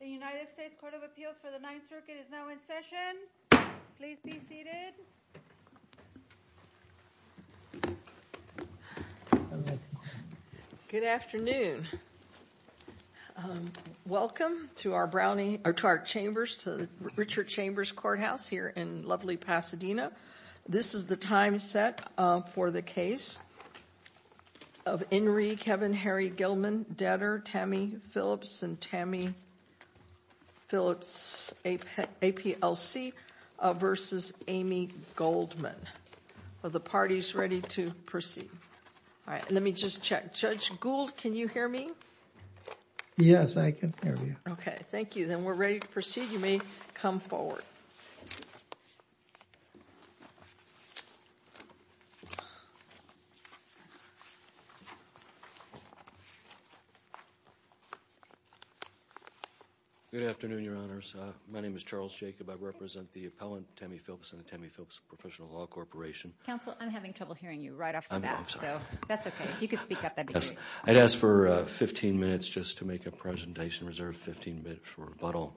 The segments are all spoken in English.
The United States Court of Appeals for the Ninth Circuit is now in session. Please be seated. Good afternoon. Welcome to our brownie or to our chambers to Richard Chambers courthouse here in lovely Pasadena. This is the time set for the case of Henry Kevin Harry Gilman debtor Tammy Phillips and Tammy Phillips APLC versus Amy Goldman. Are the parties ready to proceed? All right. Let me just check. Judge Gould, can you hear me? Yes, I can hear you. Okay. Thank you. Then we're ready to proceed. You may come forward. Good afternoon, Your Honors. My name is Charles Jacob. I represent the appellant, Tammy Phillips and the Tammy Phillips Professional Law Corporation. Counsel, I'm having trouble hearing you right off the bat, so that's okay. If you could speak up, that'd be great. I'd ask for 15 minutes just to make a presentation reserved 15 minutes for rebuttal.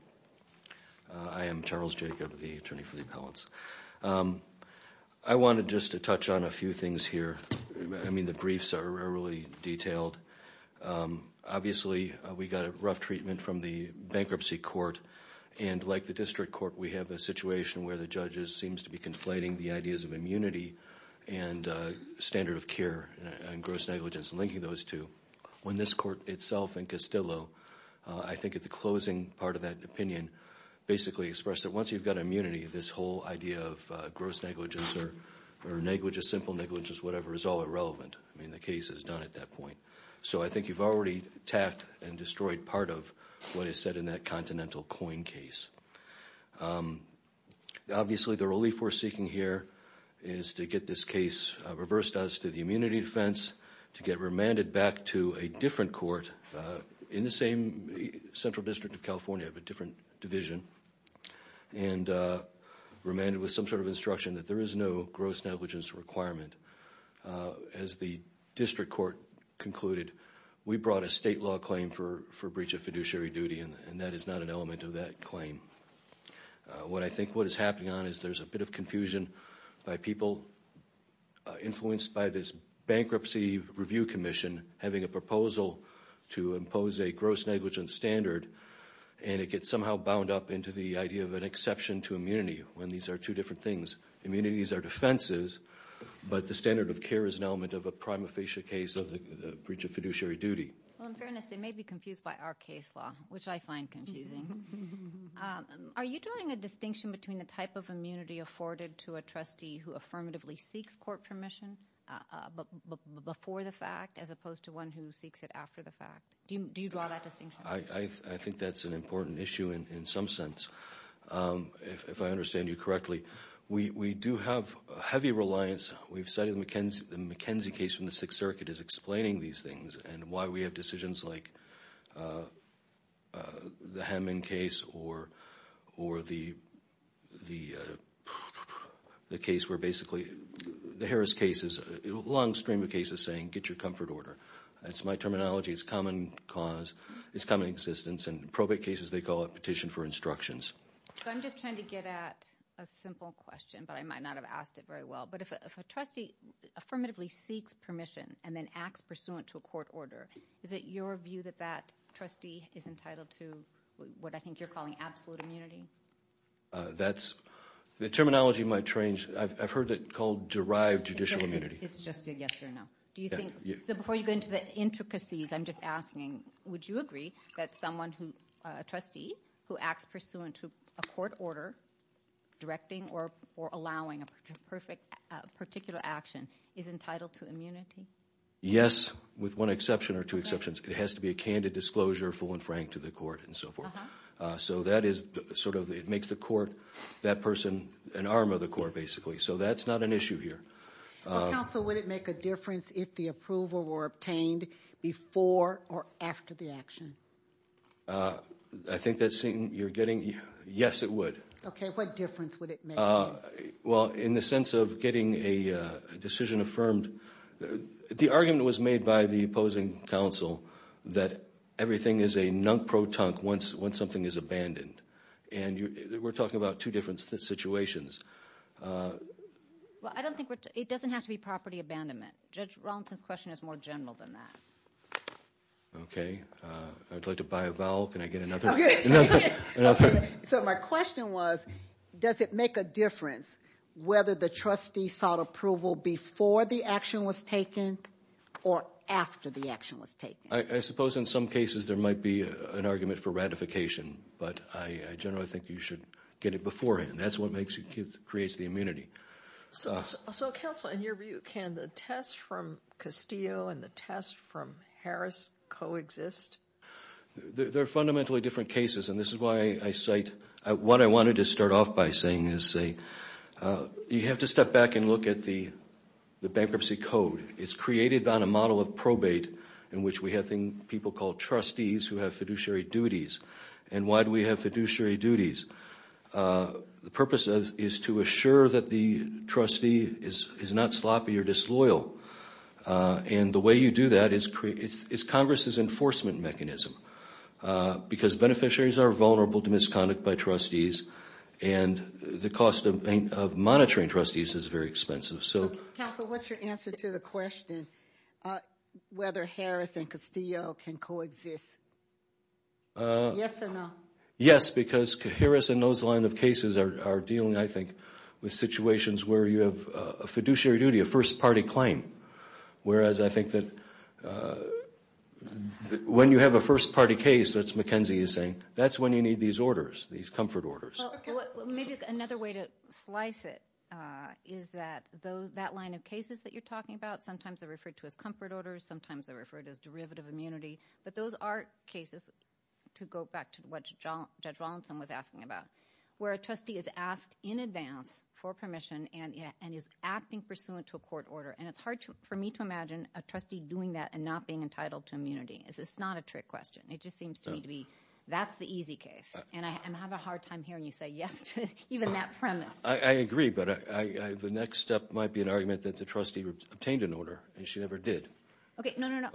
I am Charles Jacob, the attorney for the appellants. I wanted just to touch on a few things here. I mean, the briefs are really detailed. Obviously, we got a rough treatment from the bankruptcy court. And like the district court, we have a situation where the judges seems to be conflating the ideas of immunity and standard of care and gross negligence and linking those two. When this court itself and Castillo, I think at the closing part of that opinion, basically expressed that once you've got immunity, this whole idea of gross negligence or negligence, simple negligence, whatever, is all irrelevant. I mean, the case is done at that point. So I think you've already attacked and destroyed part of what is said in that Continental Coin case. Obviously, the relief we're seeking here is to get this case reversed as to the immunity defense, to get remanded back to a different court in the same central district of California of a different division, and remanded with some sort of instruction that there is no gross negligence requirement. As the district court concluded, we brought a state law claim for breach of fiduciary duty, and that is not an element of that claim. What I think what is happening on is there's a bit of confusion by people influenced by this bankruptcy review commission having a proposal to impose a gross negligence standard, and it gets somehow bound up into the idea of an exception to immunity when these are two different things. Immunities are defenses, but the standard of care is an element of a prima facie case of the breach of fiduciary duty. Well, in fairness, they may be confused by our case law, which I find confusing. Are you drawing a distinction between the type of immunity afforded to a trustee who affirmatively seeks court permission before the fact as opposed to one who seeks it after the fact? Do you draw that distinction? I think that's an important issue in some sense, if I understand you correctly. We do have heavy reliance. We've cited the McKenzie case from the Sixth Circuit as explaining these things and why we have decisions like the Hammond case or the case where basically the Harris case is a long stream of cases saying get your comfort order. That's my terminology. It's common cause. It's common existence. And probate cases, they call it petition for instructions. I'm just trying to get at a simple question, but I might not have asked it very well. But if a trustee affirmatively seeks permission and then acts pursuant to a court order, is it your view that that trustee is entitled to what I think you're calling absolute immunity? That's the terminology might change. I've heard it called derived judicial immunity. It's just a yes or no. So before you go into the intricacies, I'm just asking, would you agree that someone, a trustee, who acts pursuant to a court order directing or allowing a particular action is entitled to immunity? Yes, with one exception or two exceptions. It has to be a candid disclosure full and frank to the court and so forth. So that is sort of it makes the court, that person, an arm of the court basically. So that's not an issue here. Well, counsel, would it make a difference if the approval were obtained before or after the action? I think that's something you're getting. Yes, it would. Okay. What difference would it make? Well, in the sense of getting a decision affirmed, the argument was made by the opposing counsel that everything is a nunk-pro-tunk once something is abandoned. And we're talking about two different situations. Well, I don't think it doesn't have to be property abandonment. Judge Rollinson's question is more general than that. Okay. I'd like to buy a vowel. Can I get another? So my question was, does it make a difference whether the trustee sought approval before the action was taken or after the action was taken? I suppose in some cases there might be an argument for ratification. But I generally think you should get it beforehand. That's what creates the immunity. So, counsel, in your view, can the test from Castillo and the test from Harris coexist? They're fundamentally different cases. And this is why I cite what I wanted to start off by saying is you have to step back and look at the bankruptcy code. It's created on a model of probate in which we have people called trustees who have fiduciary duties. And why do we have fiduciary duties? The purpose is to assure that the trustee is not sloppy or disloyal. And the way you do that is Congress's enforcement mechanism. Because beneficiaries are vulnerable to misconduct by trustees. And the cost of monitoring trustees is very expensive. Counsel, what's your answer to the question whether Harris and Castillo can coexist? Yes or no? Yes, because Harris and those line of cases are dealing, I think, with situations where you have a fiduciary duty, a first-party claim. Whereas I think that when you have a first-party case, as Mackenzie is saying, that's when you need these orders, these comfort orders. Well, maybe another way to slice it is that that line of cases that you're talking about, sometimes they're referred to as comfort orders, sometimes they're referred to as derivative immunity. But those are cases, to go back to what Judge Wallinson was asking about, where a trustee is asked in advance for permission and is acting pursuant to a court order. And it's hard for me to imagine a trustee doing that and not being entitled to immunity. It's not a trick question. It just seems to me to be that's the easy case. And I have a hard time hearing you say yes to even that premise. I agree, but the next step might be an argument that the trustee obtained an order, and she never did. Okay, no, no, no.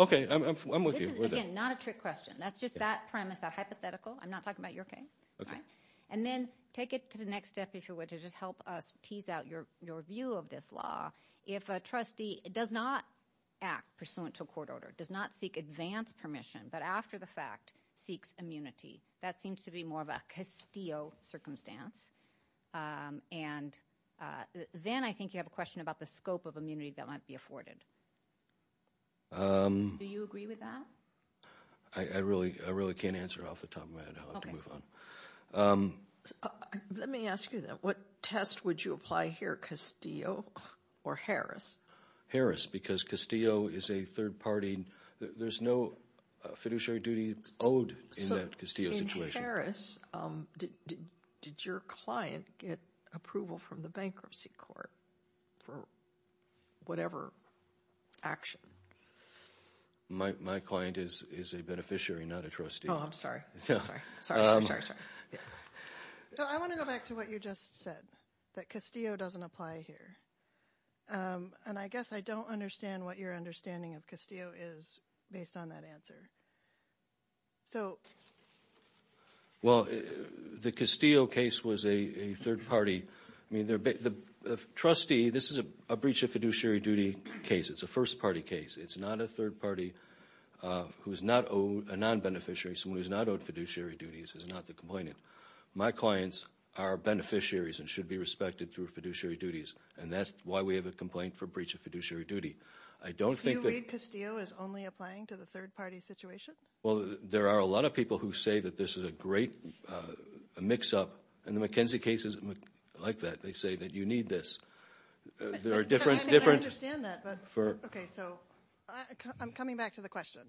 Okay, I'm with you. Again, not a trick question. That's just that premise, that hypothetical. I'm not talking about your case. And then take it to the next step, if you would, to just help us tease out your view of this law. If a trustee does not act pursuant to a court order, does not seek advance permission, but after the fact seeks immunity, that seems to be more of a castillo circumstance. And then I think you have a question about the scope of immunity that might be afforded. Do you agree with that? I really can't answer off the top of my head. I'll have to move on. Let me ask you that. What test would you apply here, castillo or Harris? Harris, because castillo is a third party. There's no fiduciary duty owed in that castillo situation. Harris, did your client get approval from the bankruptcy court for whatever action? My client is a beneficiary, not a trustee. Oh, I'm sorry. I want to go back to what you just said, that castillo doesn't apply here. And I guess I don't understand what your understanding of castillo is based on that answer. So... Well, the castillo case was a third party. I mean, the trustee, this is a breach of fiduciary duty case. It's a first party case. It's not a third party who's not owed, a non-beneficiary, someone who's not owed fiduciary duties is not the complainant. My clients are beneficiaries and should be respected through fiduciary duties. And that's why we have a complaint for breach of fiduciary duty. I don't think that... Do you read castillo as only applying to the third party situation? Well, there are a lot of people who say that this is a great mix up. And the McKenzie case is like that. They say that you need this. There are different... I understand that, but... For... Okay, so I'm coming back to the question.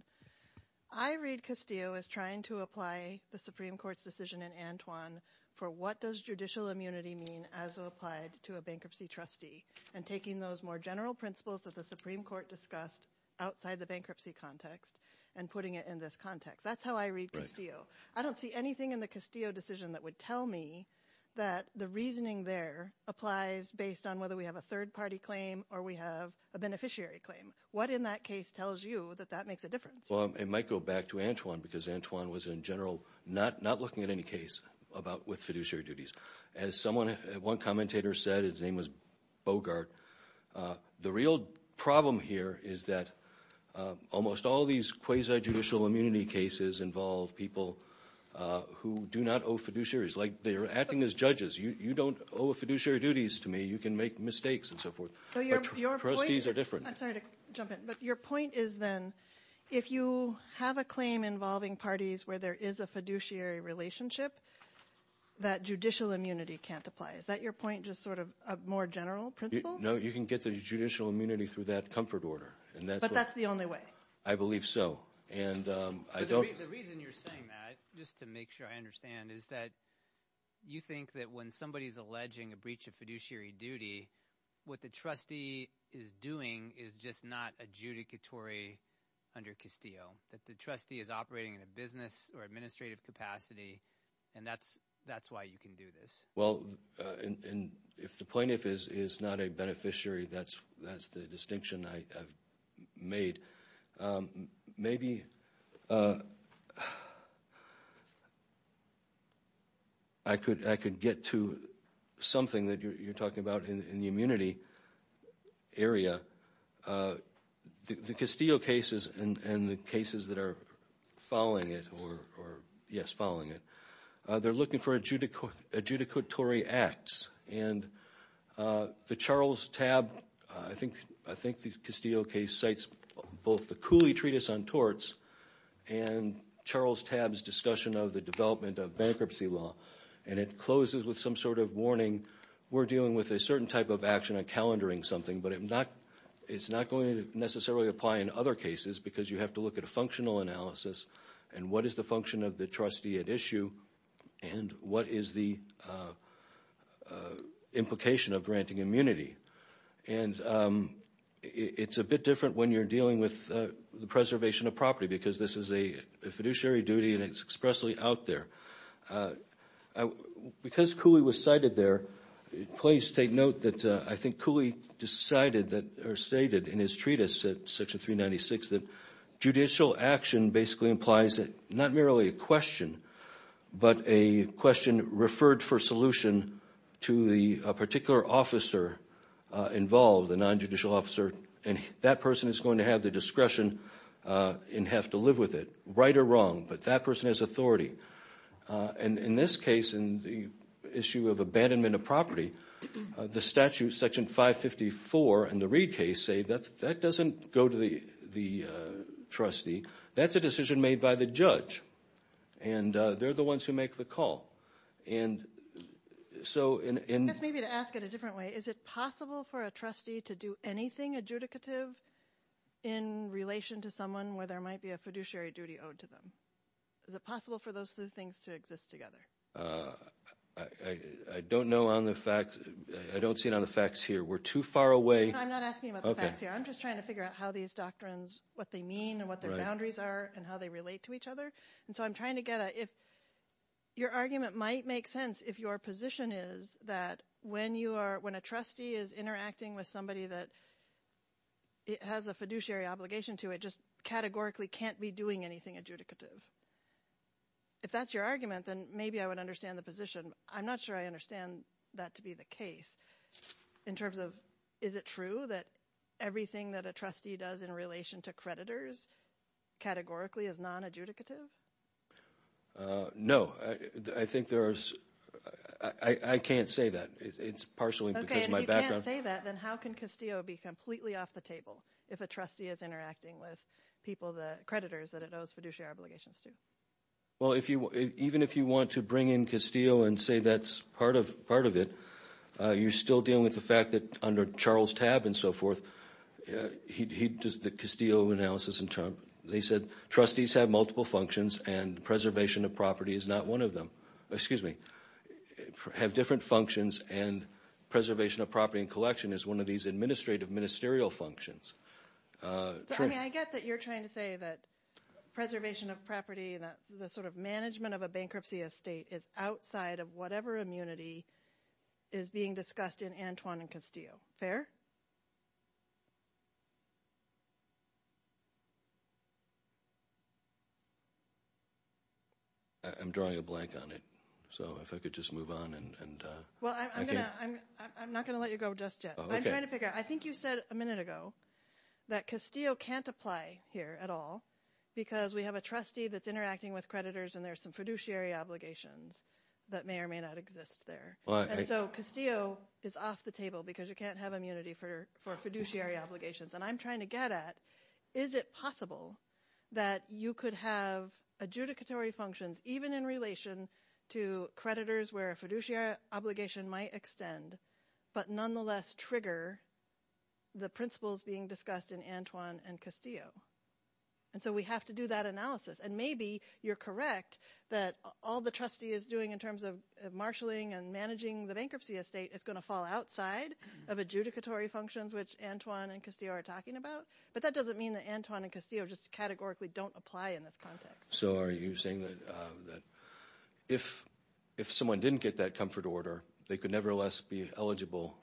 I read castillo as trying to apply the Supreme Court's decision in Antoine for what does judicial immunity mean as applied to a bankruptcy trustee and taking those more general principles that the Supreme Court discussed outside the bankruptcy context and putting it in this context. That's how I read castillo. I don't see anything in the castillo decision that would tell me that the reasoning there applies based on whether we have a third party claim or we have a beneficiary claim. What in that case tells you that that makes a difference? Well, it might go back to Antoine because Antoine was, in general, not looking at any case with fiduciary duties. As one commentator said, his name was Bogart, the real problem here is that almost all of these quasi-judicial immunity cases involve people who do not owe fiduciaries. Like, they're acting as judges. You don't owe fiduciary duties to me. You can make mistakes and so forth. But trustees are different. I'm sorry to jump in, but your point is then if you have a claim involving parties where there is a fiduciary relationship, that judicial immunity can't apply. Is that your point, just sort of a more general principle? No, you can get the judicial immunity through that comfort order. But that's the only way. I believe so. The reason you're saying that, just to make sure I understand, is that you think that when somebody is alleging a breach of fiduciary duty, what the trustee is doing is just not adjudicatory under castillo. That the trustee is operating in a business or administrative capacity, and that's why you can do this. Well, and if the plaintiff is not a beneficiary, that's the distinction I've made. Maybe I could get to something that you're talking about in the immunity area. The Castillo cases and the cases that are following it, or yes, following it, they're looking for adjudicatory acts. And the Charles Tabb, I think the Castillo case cites both the Cooley Treatise on Torts and Charles Tabb's discussion of the development of bankruptcy law. And it closes with some sort of warning, we're dealing with a certain type of action on calendaring something. But it's not going to necessarily apply in other cases, because you have to look at a functional analysis, and what is the function of the trustee at issue, and what is the implication of granting immunity. And it's a bit different when you're dealing with the preservation of property, because this is a fiduciary duty, and it's expressly out there. Because Cooley was cited there, please take note that I think Cooley decided or stated in his treatise, section 396, that judicial action basically implies not merely a question, but a question referred for solution to a particular officer involved, a non-judicial officer. And that person is going to have the discretion and have to live with it, right or wrong. But that person has authority. And in this case, in the issue of abandonment of property, the statute, section 554 in the Reed case, that doesn't go to the trustee, that's a decision made by the judge. And they're the ones who make the call. I guess maybe to ask it a different way, is it possible for a trustee to do anything adjudicative in relation to someone where there might be a fiduciary duty owed to them? Is it possible for those two things to exist together? I don't know on the facts. I don't see it on the facts here. We're too far away. I'm not asking about the facts here. I'm just trying to figure out how these doctrines, what they mean and what their boundaries are and how they relate to each other. And so I'm trying to get at if your argument might make sense if your position is that when you are, when a trustee is interacting with somebody that has a fiduciary obligation to it, just categorically can't be doing anything adjudicative. If that's your argument, then maybe I would understand the position. I'm not sure I understand that to be the case in terms of is it true that everything that a trustee does in relation to creditors categorically is nonadjudicative? No. I think there is. I can't say that. It's partially because of my background. If you can't say that, then how can Castillo be completely off the table if a trustee is interacting with people, the creditors that it owes fiduciary obligations to? Well, even if you want to bring in Castillo and say that's part of it, you're still dealing with the fact that under Charles Tabb and so forth, he does the Castillo analysis. They said trustees have multiple functions and preservation of property is not one of them. Excuse me. Have different functions and preservation of property and collection is one of these administrative ministerial functions. I mean, I get that you're trying to say that preservation of property, that the sort of management of a bankruptcy estate is outside of whatever immunity is being discussed in Antoine and Castillo. Fair? I'm drawing a blank on it. So if I could just move on. Well, I'm not going to let you go just yet. I'm trying to figure out. I think you said a minute ago that Castillo can't apply here at all because we have a trustee that's interacting with creditors and there are some fiduciary obligations that may or may not exist there. And so Castillo is off the table because you can't have immunity for fiduciary obligations. And I'm trying to get at is it possible that you could have adjudicatory functions even in relation to creditors where a fiduciary obligation might extend but nonetheless trigger the principles being discussed in Antoine and Castillo? And so we have to do that analysis. And maybe you're correct that all the trustee is doing in terms of marshalling and managing the bankruptcy estate is going to fall outside of adjudicatory functions, which Antoine and Castillo are talking about. But that doesn't mean that Antoine and Castillo just categorically don't apply in this context. So are you saying that if someone didn't get that comfort order, they could nevertheless be eligible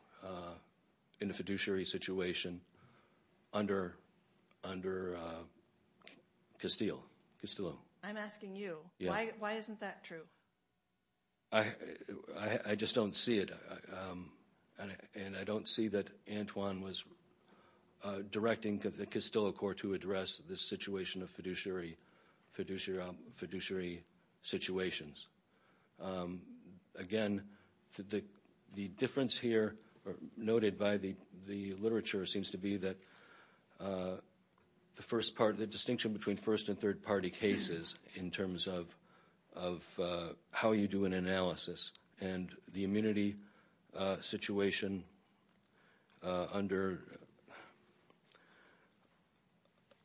in a fiduciary situation under Castillo? I'm asking you. Why isn't that true? I just don't see it. And I don't see that Antoine was directing the Castillo court to address this situation of fiduciary situations. Again, the difference here noted by the literature seems to be that the distinction between first and third party cases in terms of how you do an analysis and the immunity situation under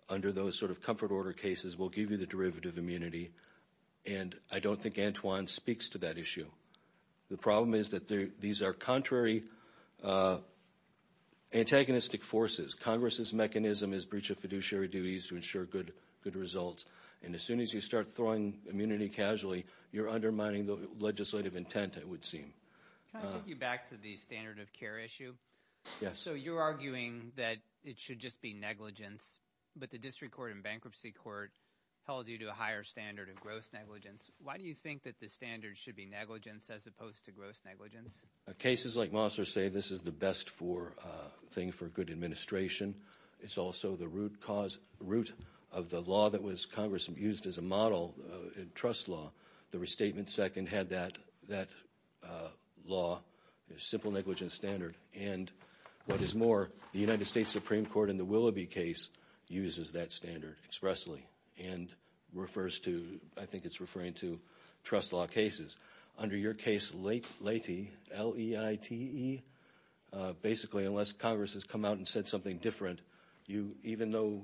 those sort of comfort order cases will give you the derivative immunity. And I don't think Antoine speaks to that issue. The problem is that these are contrary antagonistic forces. Congress's mechanism is breach of fiduciary duties to ensure good results. And as soon as you start throwing immunity casually, you're undermining the legislative intent, it would seem. Can I take you back to the standard of care issue? Yes. So you're arguing that it should just be negligence, but the district court and bankruptcy court held you to a higher standard of gross negligence. Why do you think that the standard should be negligence as opposed to gross negligence? Cases like Mossler say this is the best thing for good administration. It's also the root of the law that was Congress used as a model in trust law. The restatement second had that law, a simple negligence standard. And what is more, the United States Supreme Court in the Willoughby case uses that standard expressly and refers to, I think it's referring to trust law cases. Under your case, Leite, L-E-I-T-E, basically unless Congress has come out and said something different, even though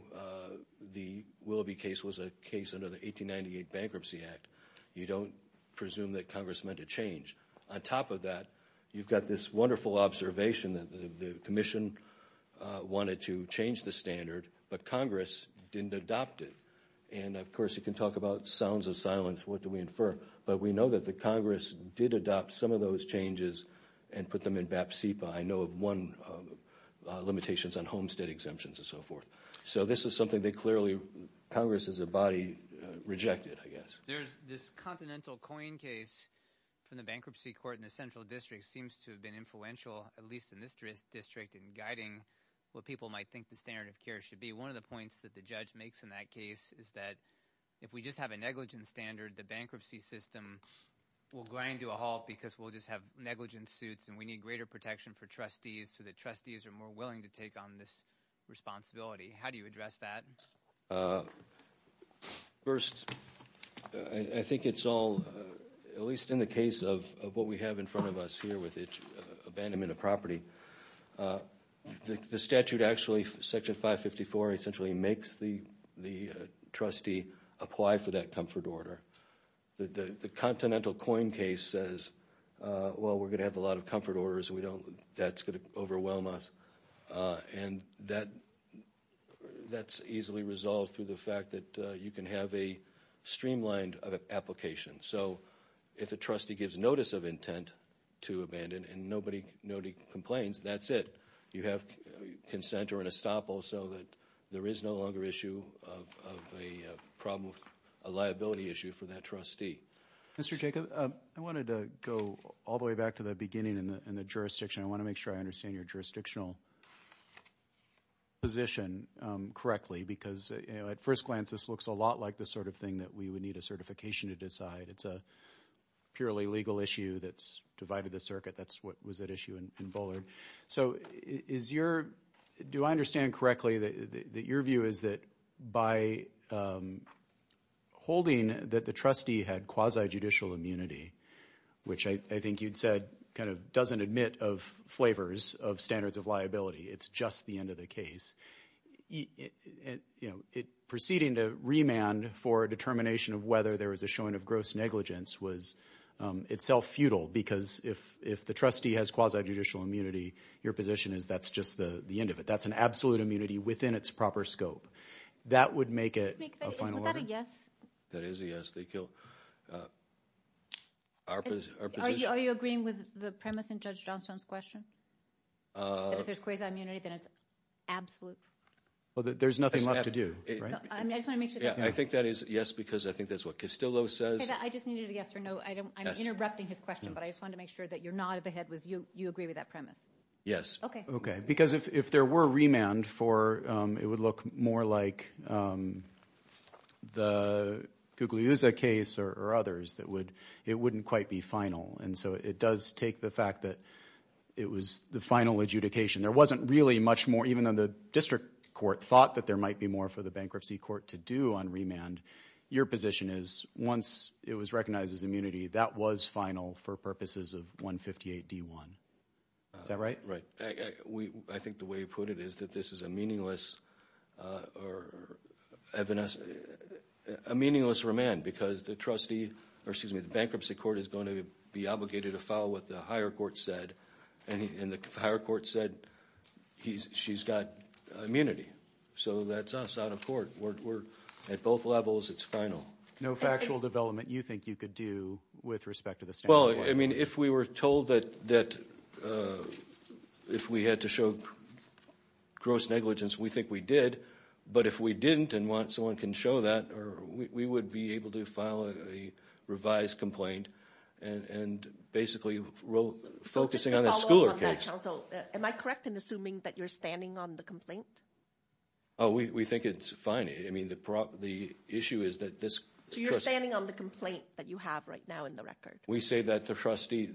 the Willoughby case was a case under the 1898 Bankruptcy Act, you don't presume that Congress meant a change. On top of that, you've got this wonderful observation that the commission wanted to change the standard, but Congress didn't adopt it. And, of course, you can talk about sounds of silence. What do we infer? But we know that Congress did adopt some of those changes and put them in BAP-CEPA. I know of one limitations on homestead exemptions and so forth. So this is something that clearly Congress as a body rejected, I guess. There's this continental coin case from the bankruptcy court in the central district seems to have been influential, at least in this district, in guiding what people might think the standard of care should be. One of the points that the judge makes in that case is that if we just have a negligence standard, the bankruptcy system will grind to a halt because we'll just have negligence suits and we need greater protection for trustees so that trustees are more willing to take on this responsibility. How do you address that? First, I think it's all, at least in the case of what we have in front of us here with abandonment of property, the statute actually, Section 554, essentially makes the trustee apply for that comfort order. The continental coin case says, well, we're going to have a lot of comfort orders. That's going to overwhelm us. And that's easily resolved through the fact that you can have a streamlined application. So if a trustee gives notice of intent to abandon and nobody complains, that's it. You have consent or an estoppel so that there is no longer issue of a liability issue for that trustee. Mr. Jacob, I wanted to go all the way back to the beginning in the jurisdiction. I want to make sure I understand your jurisdictional position correctly because, at first glance, this looks a lot like the sort of thing that we would need a certification to decide. It's a purely legal issue that's divided the circuit. That's what was at issue in Bullard. So do I understand correctly that your view is that by holding that the trustee had quasi-judicial immunity, which I think you'd said kind of doesn't admit of flavors of standards of liability, it's just the end of the case. Proceeding to remand for a determination of whether there was a showing of gross negligence was itself futile because if the trustee has quasi-judicial immunity, your position is that's just the end of it. That's an absolute immunity within its proper scope. That would make it a final order? Was that a yes? That is a yes. They killed our position. Are you agreeing with the premise in Judge Johnstone's question? If there's quasi-immunity, then it's absolute. Well, there's nothing left to do, right? I just want to make sure. I think that is yes because I think that's what Castillo says. I just needed a yes or no. I'm interrupting his question, but I just wanted to make sure that your nod of the head was you agree with that premise. Yes. Okay. Because if there were remand, it would look more like the Guglielmo case or others. It wouldn't quite be final, and so it does take the fact that it was the final adjudication. There wasn't really much more, even though the district court thought that there might be more for the bankruptcy court to do on remand. Your position is once it was recognized as immunity, that was final for purposes of 158D1. Is that right? Right. I think the way you put it is that this is a meaningless remand because the bankruptcy court is going to be obligated to follow what the higher court said, and the higher court said she's got immunity. So that's us out of court. We're at both levels. It's final. No factual development you think you could do with respect to the standard? Well, I mean, if we were told that if we had to show gross negligence, we think we did. But if we didn't and someone can show that, we would be able to file a revised complaint and basically focusing on the schooler case. Am I correct in assuming that you're standing on the complaint? Oh, we think it's fine. I mean, the issue is that this— So you're standing on the complaint that you have right now in the record. We say that the trustee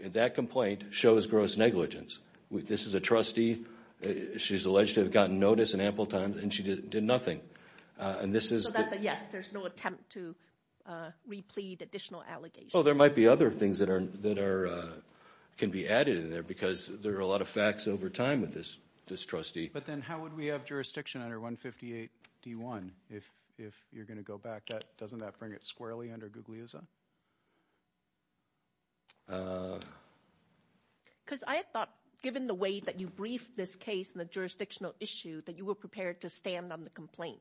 in that complaint shows gross negligence. This is a trustee. She's alleged to have gotten notice in ample time, and she did nothing. So that's a yes. There's no attempt to replete additional allegations. Well, there might be other things that can be added in there because there are a lot of facts over time with this trustee. But then how would we have jurisdiction under 158D1 if you're going to go back? Doesn't that bring it squarely under Guglielmo? Because I thought, given the way that you briefed this case and the jurisdictional issue, that you were prepared to stand on the complaint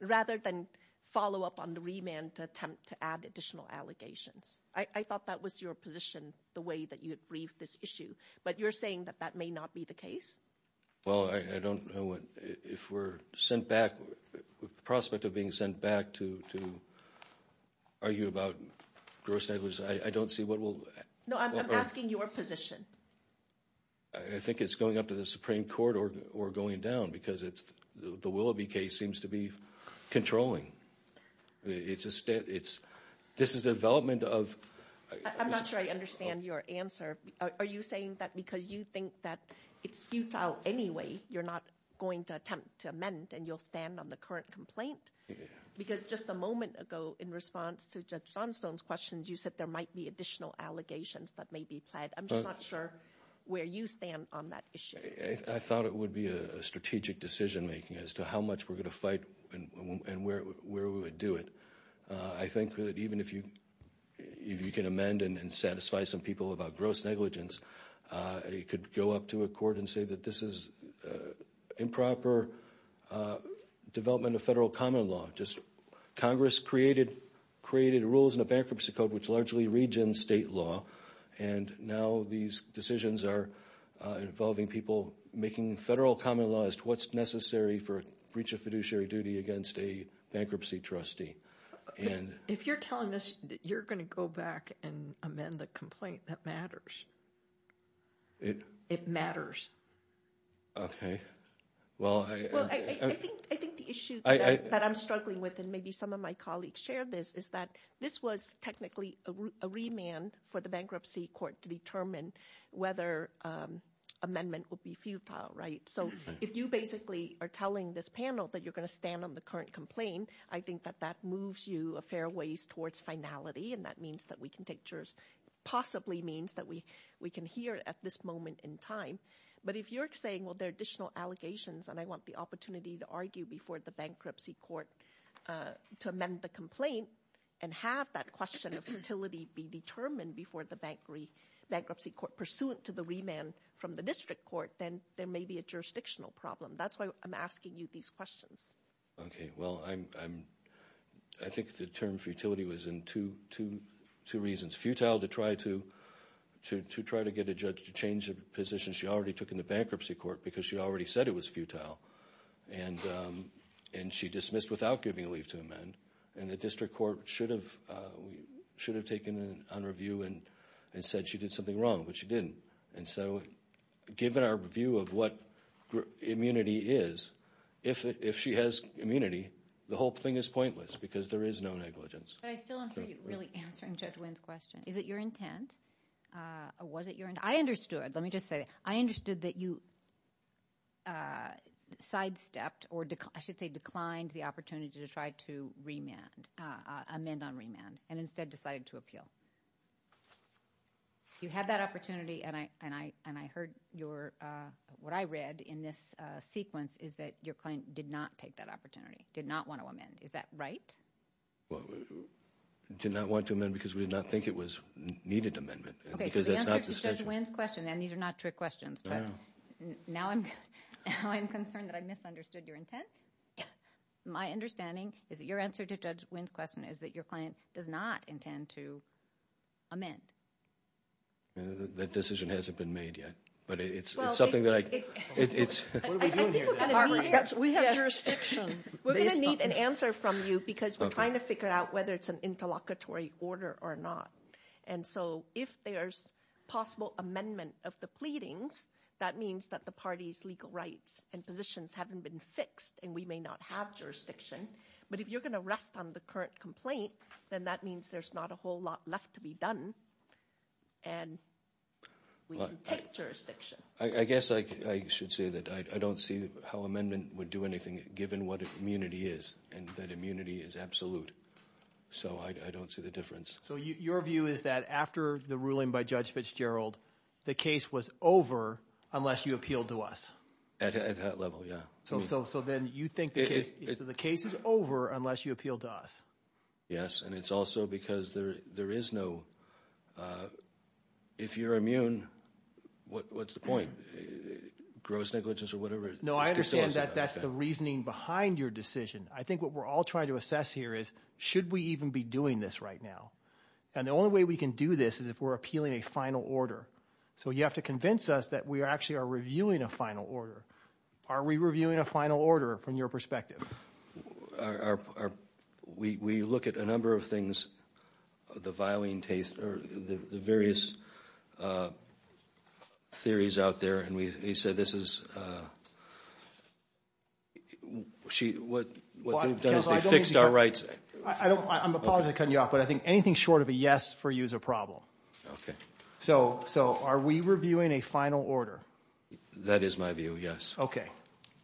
rather than follow up on the remand to attempt to add additional allegations. I thought that was your position, the way that you had briefed this issue. But you're saying that that may not be the case? Well, I don't know. If we're sent back, prospect of being sent back to argue about gross negligence, I don't see what we'll— No, I'm asking your position. I think it's going up to the Supreme Court or going down because the Willoughby case seems to be controlling. This is the development of— I'm not sure I understand your answer. Are you saying that because you think that it's futile anyway, you're not going to attempt to amend and you'll stand on the current complaint? Because just a moment ago, in response to Judge Johnstone's questions, you said there might be additional allegations that may be pled. I'm just not sure where you stand on that issue. I thought it would be a strategic decision-making as to how much we're going to fight and where we would do it. I think that even if you can amend and satisfy some people about gross negligence, you could go up to a court and say that this is improper development of federal common law. Congress created rules in a bankruptcy code which largely regen state law, and now these decisions are involving people making federal common law as to what's necessary for a breach of fiduciary duty against a bankruptcy trustee. If you're telling us that you're going to go back and amend the complaint, that matters. It— Okay. Well, I— —to determine whether amendment would be futile, right? So if you basically are telling this panel that you're going to stand on the current complaint, I think that that moves you a fair ways towards finality, and that means that we can take jurors— possibly means that we can hear at this moment in time. But if you're saying, well, there are additional allegations, and I want the opportunity to argue before the bankruptcy court to amend the complaint and have that question of futility be determined before the bankruptcy court pursuant to the remand from the district court, then there may be a jurisdictional problem. That's why I'm asking you these questions. Okay. Well, I think the term futility was in two reasons. Futile to try to get a judge to change the position she already took in the bankruptcy court because she already said it was futile, and she dismissed without giving a leave to amend. And the district court should have taken on review and said she did something wrong, but she didn't. And so given our view of what immunity is, if she has immunity, the whole thing is pointless because there is no negligence. But I still don't hear you really answering Judge Wynn's question. Is it your intent, or was it your—I understood. Let me just say, I understood that you sidestepped or I should say declined the opportunity to try to amend on remand and instead decided to appeal. You had that opportunity, and I heard your—what I read in this sequence is that your client did not take that opportunity, did not want to amend. Is that right? Well, did not want to amend because we did not think it was a needed amendment. Okay, so the answer to Judge Wynn's question—and these are not trick questions, but now I'm concerned that I misunderstood your intent. My understanding is that your answer to Judge Wynn's question is that your client does not intend to amend. That decision hasn't been made yet, but it's something that I— What are we doing here? Barbara, we have jurisdiction. We're going to need an answer from you because we're trying to figure out whether it's an interlocutory order or not. And so if there's possible amendment of the pleadings, that means that the party's legal rights and positions haven't been fixed, and we may not have jurisdiction. But if you're going to rest on the current complaint, then that means there's not a whole lot left to be done, and we can take jurisdiction. I guess I should say that I don't see how amendment would do anything, given what immunity is, and that immunity is absolute. So I don't see the difference. So your view is that after the ruling by Judge Fitzgerald, the case was over unless you appealed to us? At that level, yeah. So then you think the case is over unless you appeal to us? Yes, and it's also because there is no—if you're immune, what's the point? Gross negligence or whatever? No, I understand that that's the reasoning behind your decision. I think what we're all trying to assess here is should we even be doing this right now? And the only way we can do this is if we're appealing a final order. So you have to convince us that we actually are reviewing a final order. Are we reviewing a final order from your perspective? We look at a number of things, the various theories out there, and we say this is—what they've done is they've fixed our rights. I'm apologizing for cutting you off, but I think anything short of a yes for you is a problem. Okay. So are we reviewing a final order? That is my view, yes. Okay.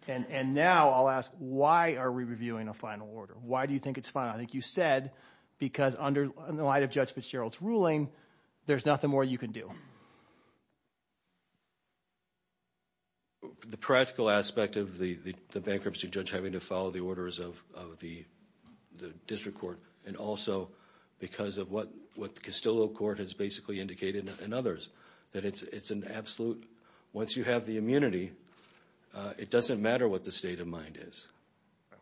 And now I'll ask why are we reviewing a final order? Why do you think it's final? I think you said because in light of Judge Fitzgerald's ruling, there's nothing more you can do. The practical aspect of the bankruptcy judge having to follow the orders of the district court and also because of what the Castillo court has basically indicated and others, that it's an absolute—once you have the immunity, it doesn't matter what the state of mind is.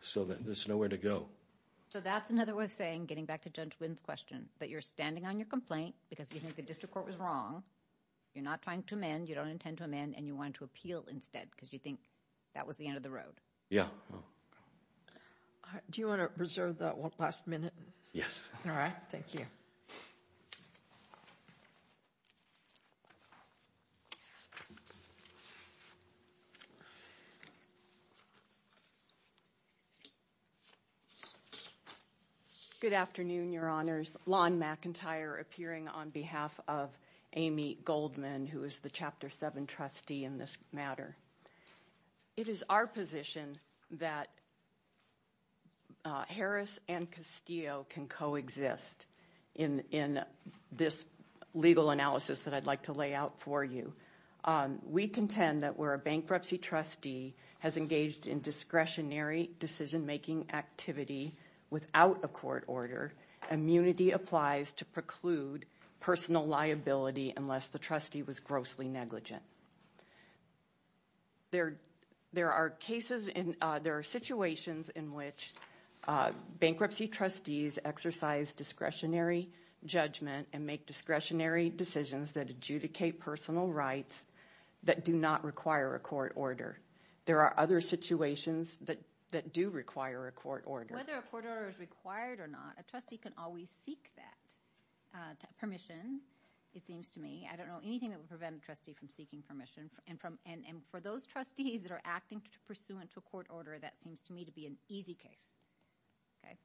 So there's nowhere to go. So that's another way of saying, getting back to Judge Wynn's question, that you're standing on your complaint because you think the district court was wrong, you're not trying to amend, you don't intend to amend, and you wanted to appeal instead because you think that was the end of the road. Yeah. Do you want to reserve that one last minute? Yes. All right. Thank you. Thank you. Good afternoon, Your Honors. Lon McIntyre appearing on behalf of Amy Goldman, who is the Chapter 7 trustee in this matter. It is our position that Harris and Castillo can coexist in this legal analysis that I'd like to lay out for you. We contend that where a bankruptcy trustee has engaged in discretionary decision-making activity without a court order, immunity applies to preclude personal liability unless the trustee was grossly negligent. There are situations in which bankruptcy trustees exercise discretionary judgment and make discretionary decisions that adjudicate personal rights that do not require a court order. There are other situations that do require a court order. Whether a court order is required or not, a trustee can always seek that permission, it seems to me. I don't know anything that would prevent a trustee from seeking permission. And for those trustees that are acting pursuant to a court order, that seems to me to be an easy case. Okay?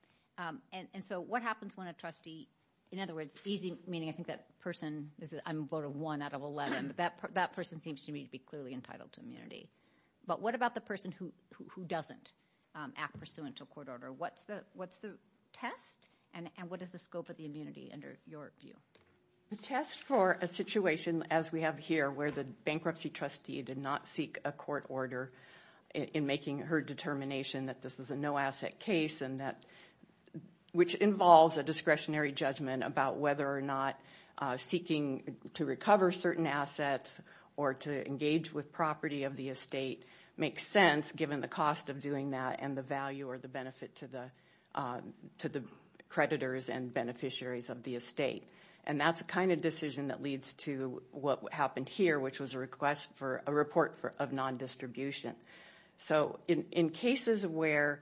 And so what happens when a trustee – in other words, easy meaning I think that person – I'm a vote of 1 out of 11. That person seems to me to be clearly entitled to immunity. But what about the person who doesn't act pursuant to a court order? What's the test? And what is the scope of the immunity under your view? The test for a situation as we have here where the bankruptcy trustee did not seek a court order in making her determination that this is a no-asset case and that – which involves a discretionary judgment about whether or not seeking to recover certain assets or to engage with property of the estate makes sense given the cost of doing that and the value or the benefit to the creditors and beneficiaries of the estate. And that's the kind of decision that leads to what happened here, which was a request for a report of non-distribution. So in cases where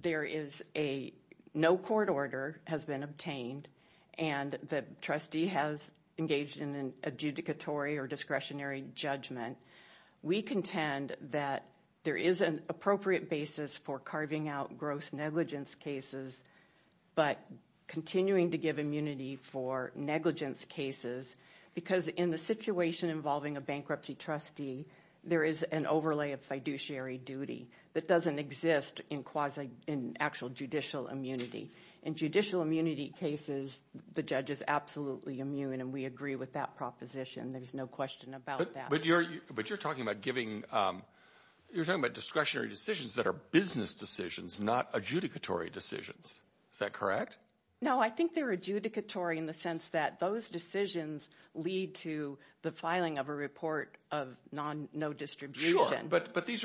there is a – no court order has been obtained and the trustee has engaged in an adjudicatory or discretionary judgment, we contend that there is an appropriate basis for carving out gross negligence cases but continuing to give immunity for negligence cases because in the situation involving a bankruptcy trustee, there is an overlay of fiduciary duty that doesn't exist in actual judicial immunity. In judicial immunity cases, the judge is absolutely immune, and we agree with that proposition. There's no question about that. But you're talking about giving – you're talking about discretionary decisions that are business decisions, not adjudicatory decisions. Is that correct? No, I think they're adjudicatory in the sense that those decisions lead to the filing of a report of no distribution. Sure, but these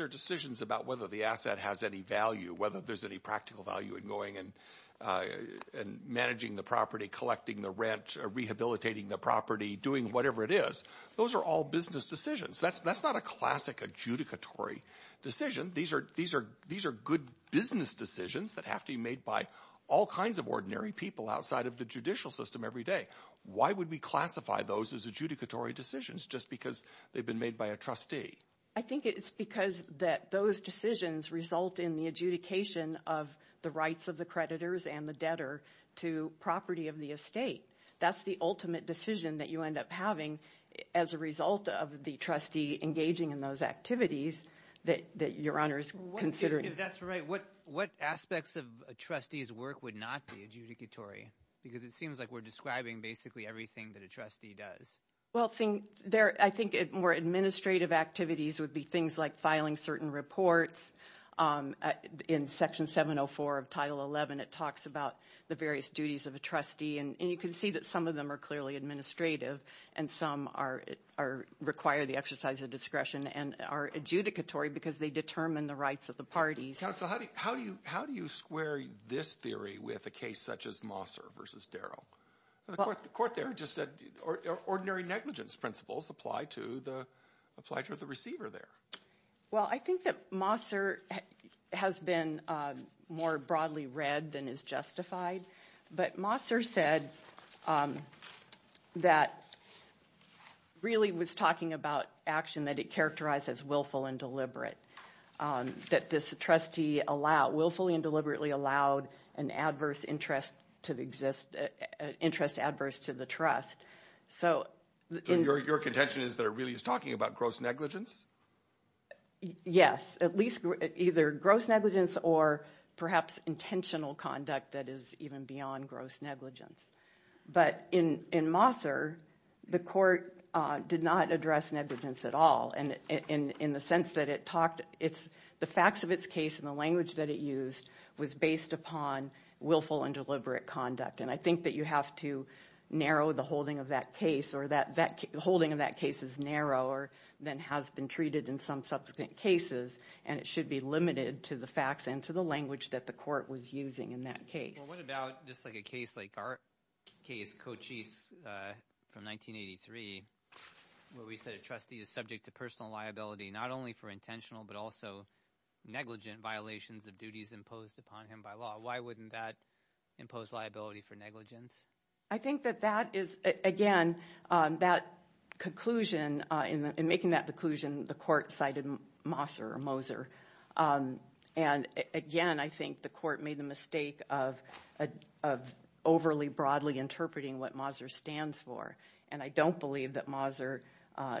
are decisions about whether the asset has any value, whether there's any practical value in going and managing the property, collecting the rent, rehabilitating the property, doing whatever it is. Those are all business decisions. That's not a classic adjudicatory decision. These are good business decisions that have to be made by all kinds of ordinary people outside of the judicial system every day. Why would we classify those as adjudicatory decisions? Just because they've been made by a trustee. I think it's because those decisions result in the adjudication of the rights of the creditors and the debtor to property of the estate. That's the ultimate decision that you end up having as a result of the trustee engaging in those activities that Your Honor is considering. If that's right, what aspects of a trustee's work would not be adjudicatory? Because it seems like we're describing basically everything that a trustee does. Well, I think more administrative activities would be things like filing certain reports. In Section 704 of Title 11, it talks about the various duties of a trustee, and you can see that some of them are clearly administrative and some require the exercise of discretion and are adjudicatory because they determine the rights of the parties. Counsel, how do you square this theory with a case such as Mosser v. Darrow? The court there just said ordinary negligence principles apply to the receiver there. Well, I think that Mosser has been more broadly read than is justified, but Mosser said that really was talking about action that it characterized as willful and deliberate, that this trustee willfully and deliberately allowed an interest adverse to the trust. So your contention is that it really is talking about gross negligence? Yes, at least either gross negligence or perhaps intentional conduct that is even beyond gross negligence. But in Mosser, the court did not address negligence at all in the sense that the facts of its case and the language that it used was based upon willful and deliberate conduct, and I think that you have to narrow the holding of that case, or the holding of that case is narrower than has been treated in some subsequent cases, and it should be limited to the facts and to the language that the court was using in that case. Well, what about just like a case like our case, Cochise from 1983, where we said a trustee is subject to personal liability not only for intentional but also negligent violations of duties imposed upon him by law? Why wouldn't that impose liability for negligence? I think that that is, again, that conclusion, in making that conclusion, the court cited Mosser or Moser. And again, I think the court made the mistake of overly broadly interpreting what Mosser stands for, and I don't believe that Mosser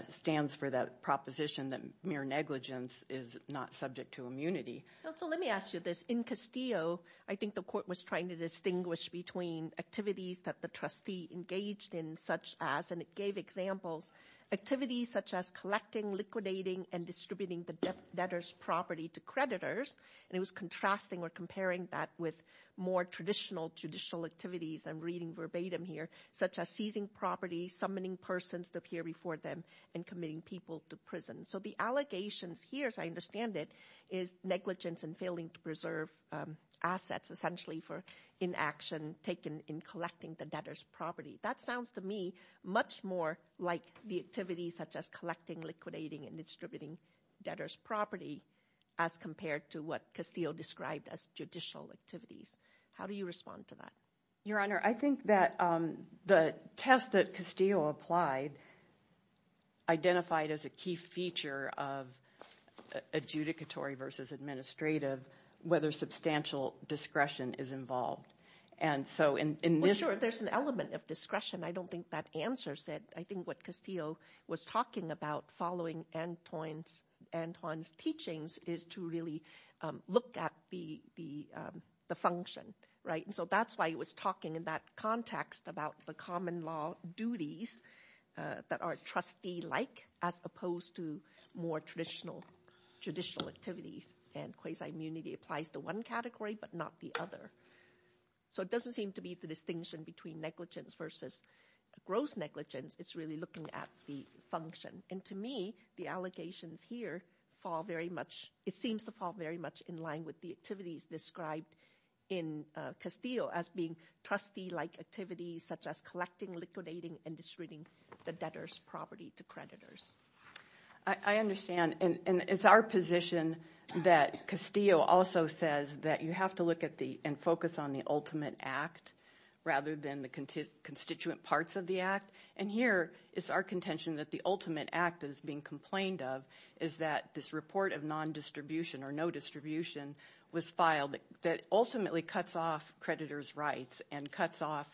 stands for that proposition that mere negligence is not subject to immunity. Counsel, let me ask you this. In Castillo, I think the court was trying to distinguish between activities that the trustee engaged in such as, activities such as collecting, liquidating, and distributing the debtor's property to creditors, and it was contrasting or comparing that with more traditional judicial activities, I'm reading verbatim here, such as seizing property, summoning persons to appear before them, and committing people to prison. So the allegations here, as I understand it, is negligence and failing to preserve assets, essentially for inaction taken in collecting the debtor's property. That sounds to me much more like the activities such as collecting, liquidating, and distributing debtor's property as compared to what Castillo described as judicial activities. How do you respond to that? Your Honor, I think that the test that Castillo applied identified as a key feature of adjudicatory versus administrative whether substantial discretion is involved. Sure, there's an element of discretion. I don't think that answers it. I think what Castillo was talking about following Antoine's teachings is to really look at the function, right? So that's why he was talking in that context about the common law duties that are trustee-like as opposed to more traditional judicial activities. And quasi-immunity applies to one category but not the other. So it doesn't seem to be the distinction between negligence versus gross negligence. It's really looking at the function. And to me, the allegations here fall very much – it seems to fall very much in line with the activities described in Castillo as being trustee-like activities such as collecting, liquidating, and distributing the debtor's property to creditors. I understand. And it's our position that Castillo also says that you have to look at the – and focus on the ultimate act rather than the constituent parts of the act. And here it's our contention that the ultimate act that is being complained of is that this report of non-distribution or no distribution was filed that ultimately cuts off creditors' rights and cuts off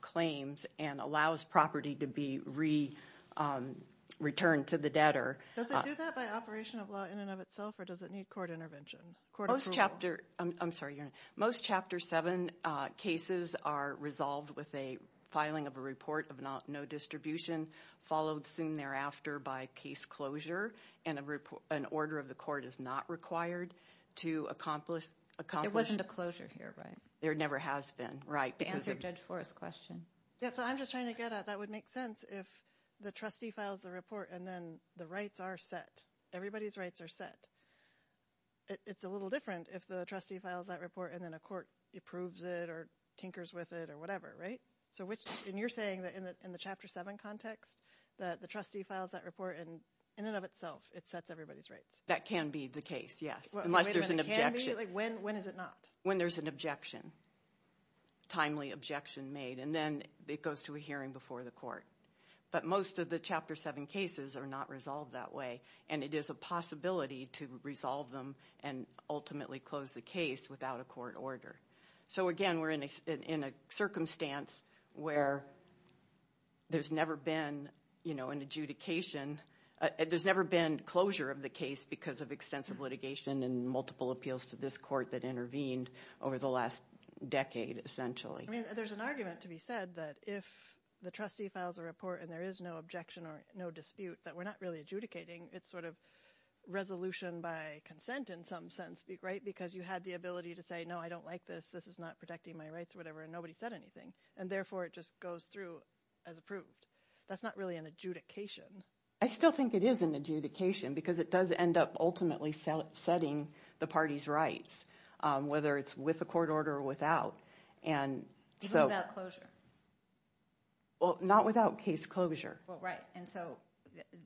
claims and allows property to be re-returned to the debtor. Does it do that by operation of law in and of itself, or does it need court intervention? Most Chapter – I'm sorry. Most Chapter 7 cases are resolved with a filing of a report of no distribution followed soon thereafter by case closure, and an order of the court is not required to accomplish – It wasn't a closure here, right? There never has been, right? To answer Judge Forrest's question. Yeah, so I'm just trying to get at that would make sense if the trustee files the report and then the rights are set. Everybody's rights are set. It's a little different if the trustee files that report and then a court approves it or tinkers with it or whatever, right? So which – and you're saying that in the Chapter 7 context that the trustee files that report, and in and of itself it sets everybody's rights. That can be the case, yes, unless there's an objection. Wait a minute. Can be? Like when is it not? When there's an objection, timely objection made, and then it goes to a hearing before the court. But most of the Chapter 7 cases are not resolved that way, and it is a possibility to resolve them and ultimately close the case without a court order. So again, we're in a circumstance where there's never been an adjudication – there's never been closure of the case because of extensive litigation and multiple appeals to this court that intervened over the last decade essentially. I mean, there's an argument to be said that if the trustee files a report and there is no objection or no dispute that we're not really adjudicating. It's sort of resolution by consent in some sense, right? Because you had the ability to say, no, I don't like this. This is not protecting my rights or whatever, and nobody said anything, and therefore it just goes through as approved. That's not really an adjudication. I still think it is an adjudication because it does end up ultimately setting the party's rights, whether it's with a court order or without. Even without closure? Well, not without case closure. Right, and so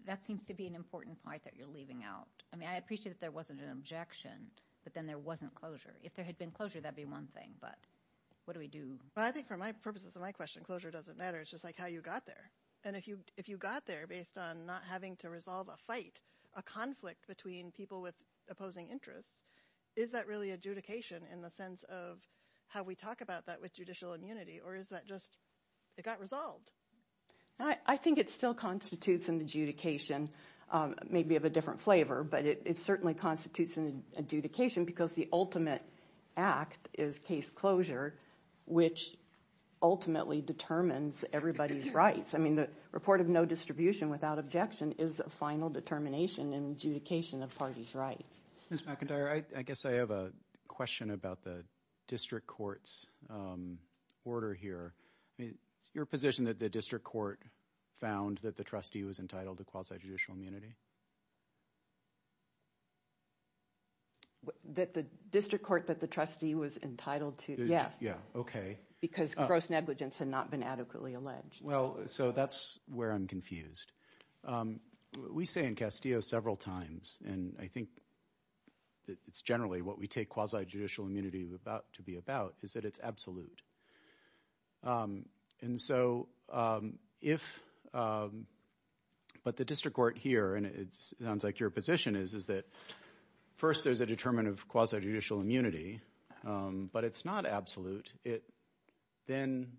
that seems to be an important point that you're leaving out. I mean, I appreciate that there wasn't an objection, but then there wasn't closure. If there had been closure, that would be one thing, but what do we do? Well, I think for purposes of my question, closure doesn't matter. It's just like how you got there, and if you got there based on not having to resolve a fight, a conflict between people with opposing interests, is that really adjudication in the sense of how we talk about that with judicial immunity, or is that just it got resolved? I think it still constitutes an adjudication, maybe of a different flavor, but it certainly constitutes an adjudication because the ultimate act is case closure, which ultimately determines everybody's rights. I mean, the report of no distribution without objection is a final determination and adjudication of party's rights. Ms. McIntyre, I guess I have a question about the district court's order here. I mean, is it your position that the district court found that the trustee was entitled to quasi-judicial immunity? The district court that the trustee was entitled to? Okay. Because gross negligence had not been adequately alleged. Well, so that's where I'm confused. We say in Castillo several times, and I think it's generally what we take quasi-judicial immunity to be about, is that it's absolute. But the district court here, and it sounds like your position is, is that first there's a determinant of quasi-judicial immunity, but it's not absolute. It then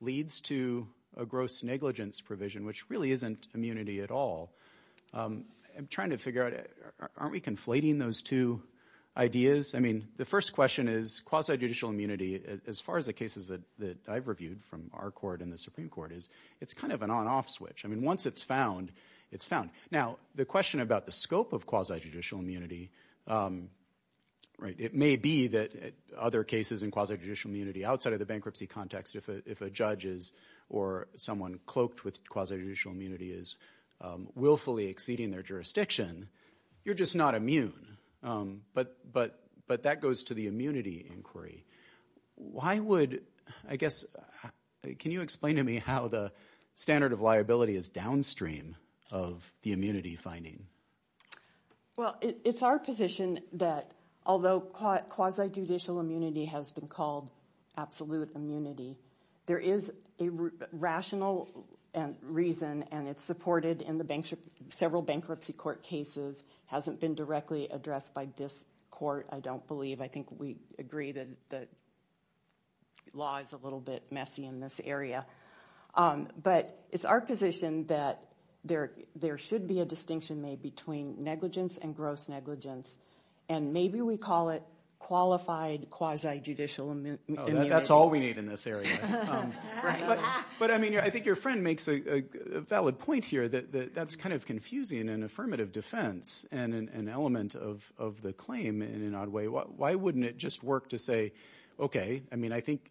leads to a gross negligence provision, which really isn't immunity at all. I'm trying to figure out, aren't we conflating those two ideas? I mean, the first question is quasi-judicial immunity, as far as the cases that I've reviewed from our court and the Supreme Court, is it's kind of an on-off switch. I mean, once it's found, it's found. Now, the question about the scope of quasi-judicial immunity, right, it may be that other cases in quasi-judicial immunity outside of the bankruptcy context, if a judge is or someone cloaked with quasi-judicial immunity is willfully exceeding their jurisdiction, you're just not immune. But that goes to the immunity inquiry. Why would, I guess, can you explain to me how the standard of liability is downstream of the immunity finding? Well, it's our position that although quasi-judicial immunity has been called absolute immunity, there is a rational reason, and it's supported in several bankruptcy court cases, hasn't been directly addressed by this court, I don't believe. I think we agree that the law is a little bit messy in this area. But it's our position that there should be a distinction made between negligence and gross negligence, and maybe we call it qualified quasi-judicial immunity. Oh, that's all we need in this area. But, I mean, I think your friend makes a valid point here that that's kind of confusing in an affirmative defense and an element of the claim in an odd way. Why wouldn't it just work to say, okay, I mean, I think,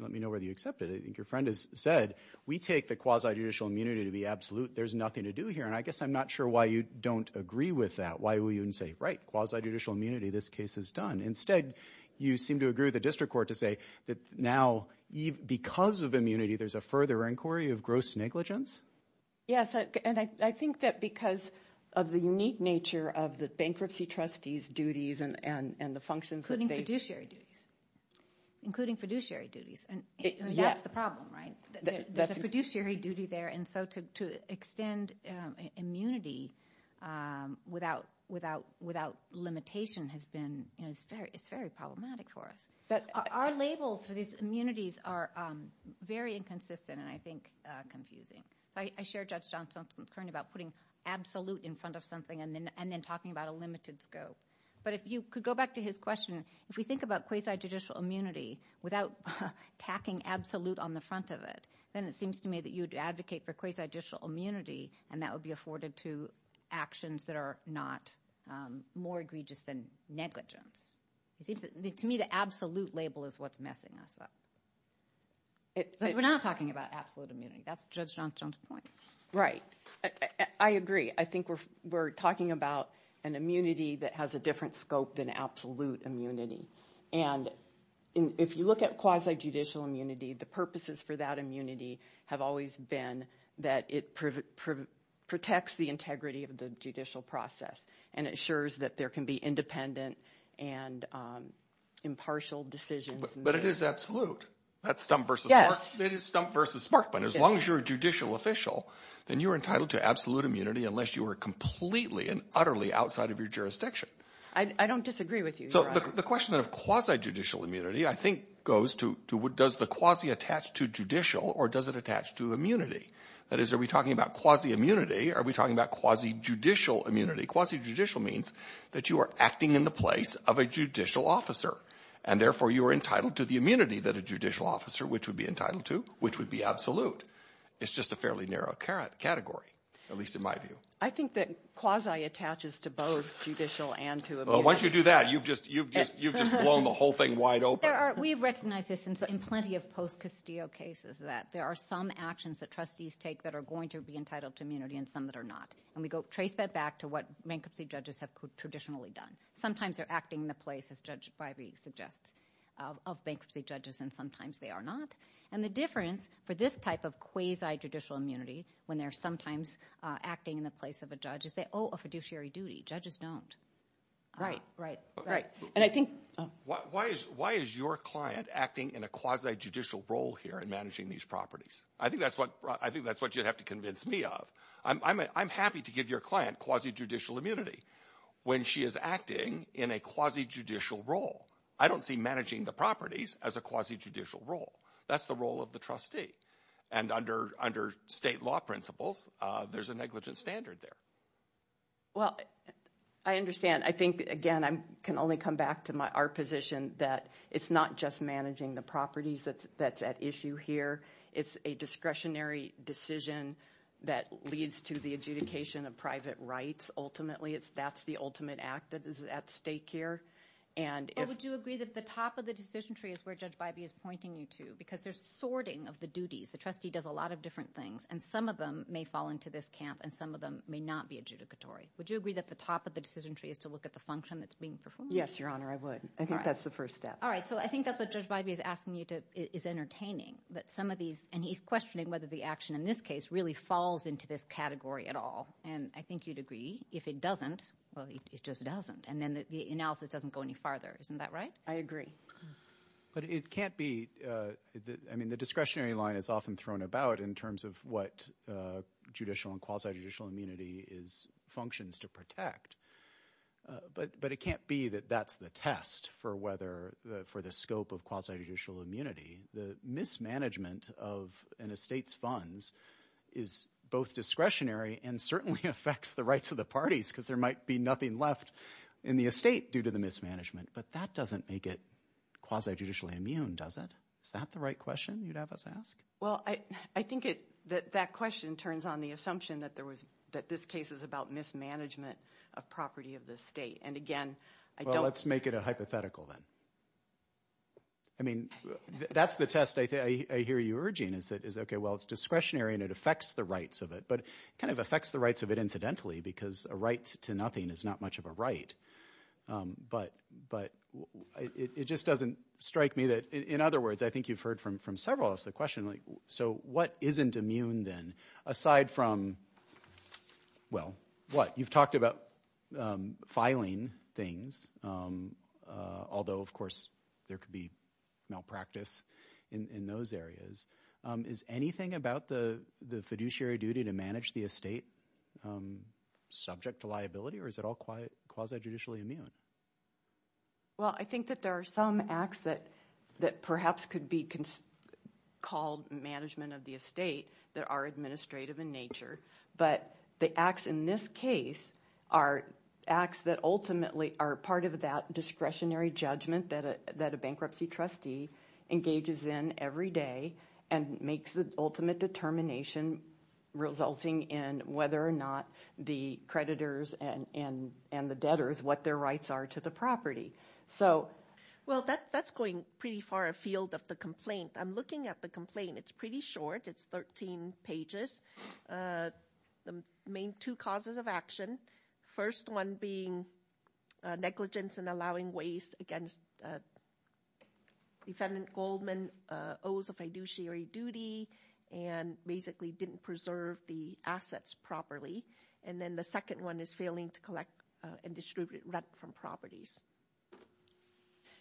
let me know whether you accept it. I think your friend has said we take the quasi-judicial immunity to be absolute. There's nothing to do here, and I guess I'm not sure why you don't agree with that. Why would you even say, right, quasi-judicial immunity, this case is done. Instead, you seem to agree with the district court to say that now, because of immunity, there's a further inquiry of gross negligence? Yes, and I think that because of the unique nature of the bankruptcy trustees' duties and the functions that they Including fiduciary duties. Including fiduciary duties. That's the problem, right? There's a fiduciary duty there, and so to extend immunity without limitation has been, you know, it's very problematic for us. Our labels for these immunities are very inconsistent and I think confusing. I shared Judge Johnson's concern about putting absolute in front of something and then talking about a limited scope. But if you could go back to his question. If we think about quasi-judicial immunity without tacking absolute on the front of it, then it seems to me that you would advocate for quasi-judicial immunity, and that would be afforded to actions that are not more egregious than negligence. To me, the absolute label is what's messing us up. But we're not talking about absolute immunity. That's Judge Johnson's point. Right. I agree. I think we're talking about an immunity that has a different scope than absolute immunity. And if you look at quasi-judicial immunity, the purposes for that immunity have always been that it protects the integrity of the judicial process and ensures that there can be independent and impartial decisions. But it is absolute. That's stump versus Markman. Yes. It is stump versus Markman. As long as you're a judicial official, then you're entitled to absolute immunity unless you are completely and utterly outside of your jurisdiction. I don't disagree with you. So the question of quasi-judicial immunity, I think, goes to does the quasi attach to judicial or does it attach to immunity? That is, are we talking about quasi-immunity or are we talking about quasi-judicial immunity? Quasi-judicial means that you are acting in the place of a judicial officer, and therefore you are entitled to the immunity that a judicial officer, which would be entitled to, which would be absolute. It's just a fairly narrow category, at least in my view. I think that quasi attaches to both judicial and to immunity. Well, once you do that, you've just blown the whole thing wide open. We recognize this in plenty of post-Castillo cases that there are some actions that trustees take that are going to be entitled to immunity and some that are not, and we trace that back to what bankruptcy judges have traditionally done. Sometimes they're acting in the place, as Judge Bivey suggests, of bankruptcy judges, and sometimes they are not. And the difference for this type of quasi-judicial immunity when they're sometimes acting in the place of a judge is they owe a fiduciary duty. Judges don't. Right, right, right. And I think— Why is your client acting in a quasi-judicial role here in managing these properties? I think that's what you'd have to convince me of. I'm happy to give your client quasi-judicial immunity when she is acting in a quasi-judicial role. I don't see managing the properties as a quasi-judicial role. That's the role of the trustee. And under state law principles, there's a negligent standard there. Well, I understand. I think, again, I can only come back to our position that it's not just managing the properties that's at issue here. It's a discretionary decision that leads to the adjudication of private rights. Ultimately, that's the ultimate act that is at stake here. But would you agree that the top of the decision tree is where Judge Bivey is pointing you to? Because there's sorting of the duties. The trustee does a lot of different things, and some of them may fall into this camp and some of them may not be adjudicatory. Would you agree that the top of the decision tree is to look at the function that's being performed? Yes, Your Honor, I would. I think that's the first step. All right, so I think that's what Judge Bivey is asking you to—is entertaining, that some of these— and he's questioning whether the action in this case really falls into this category at all. And I think you'd agree. If it doesn't, well, it just doesn't, and then the analysis doesn't go any farther. Isn't that right? I agree. But it can't be—I mean the discretionary line is often thrown about in terms of what judicial and quasi-judicial immunity functions to protect. But it can't be that that's the test for whether—for the scope of quasi-judicial immunity. The mismanagement of an estate's funds is both discretionary and certainly affects the rights of the parties because there might be nothing left in the estate due to the mismanagement. But that doesn't make it quasi-judicially immune, does it? Is that the right question you'd have us ask? Well, I think that that question turns on the assumption that this case is about mismanagement of property of the estate. And again, I don't— Well, let's make it a hypothetical then. I mean, that's the test I hear you urging is, okay, well, it's discretionary and it affects the rights of it. But it kind of affects the rights of it incidentally because a right to nothing is not much of a right. But it just doesn't strike me that—in other words, I think you've heard from several of us the question, so what isn't immune then? Aside from, well, what? You've talked about filing things, although, of course, there could be malpractice in those areas. Is anything about the fiduciary duty to manage the estate subject to liability or is it all quasi-judicially immune? Well, I think that there are some acts that perhaps could be called management of the estate that are administrative in nature. But the acts in this case are acts that ultimately are part of that discretionary judgment that a bankruptcy trustee engages in every day and makes the ultimate determination resulting in whether or not the creditors and the debtors, what their rights are to the property. So— Well, that's going pretty far afield of the complaint. I'm looking at the complaint. It's pretty short. It's 13 pages. The main two causes of action, first one being negligence in allowing waste against defendant Goldman owes a fiduciary duty and basically didn't preserve the assets properly. And then the second one is failing to collect and distribute rent from properties.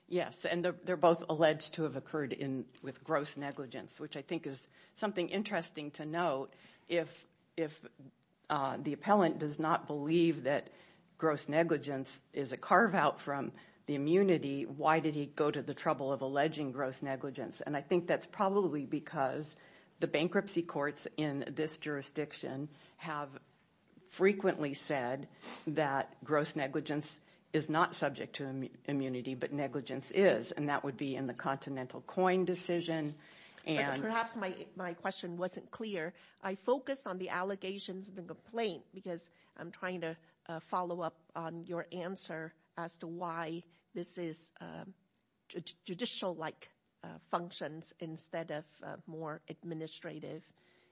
Yes, and they're both alleged to have occurred with gross negligence, which I think is something interesting to note. If the appellant does not believe that gross negligence is a carve-out from the immunity, why did he go to the trouble of alleging gross negligence? And I think that's probably because the bankruptcy courts in this jurisdiction have frequently said that gross negligence is not subject to immunity, but negligence is. And that would be in the continental coin decision. Perhaps my question wasn't clear. I focused on the allegations of the complaint because I'm trying to follow up on your answer as to why this is judicial-like functions instead of more administrative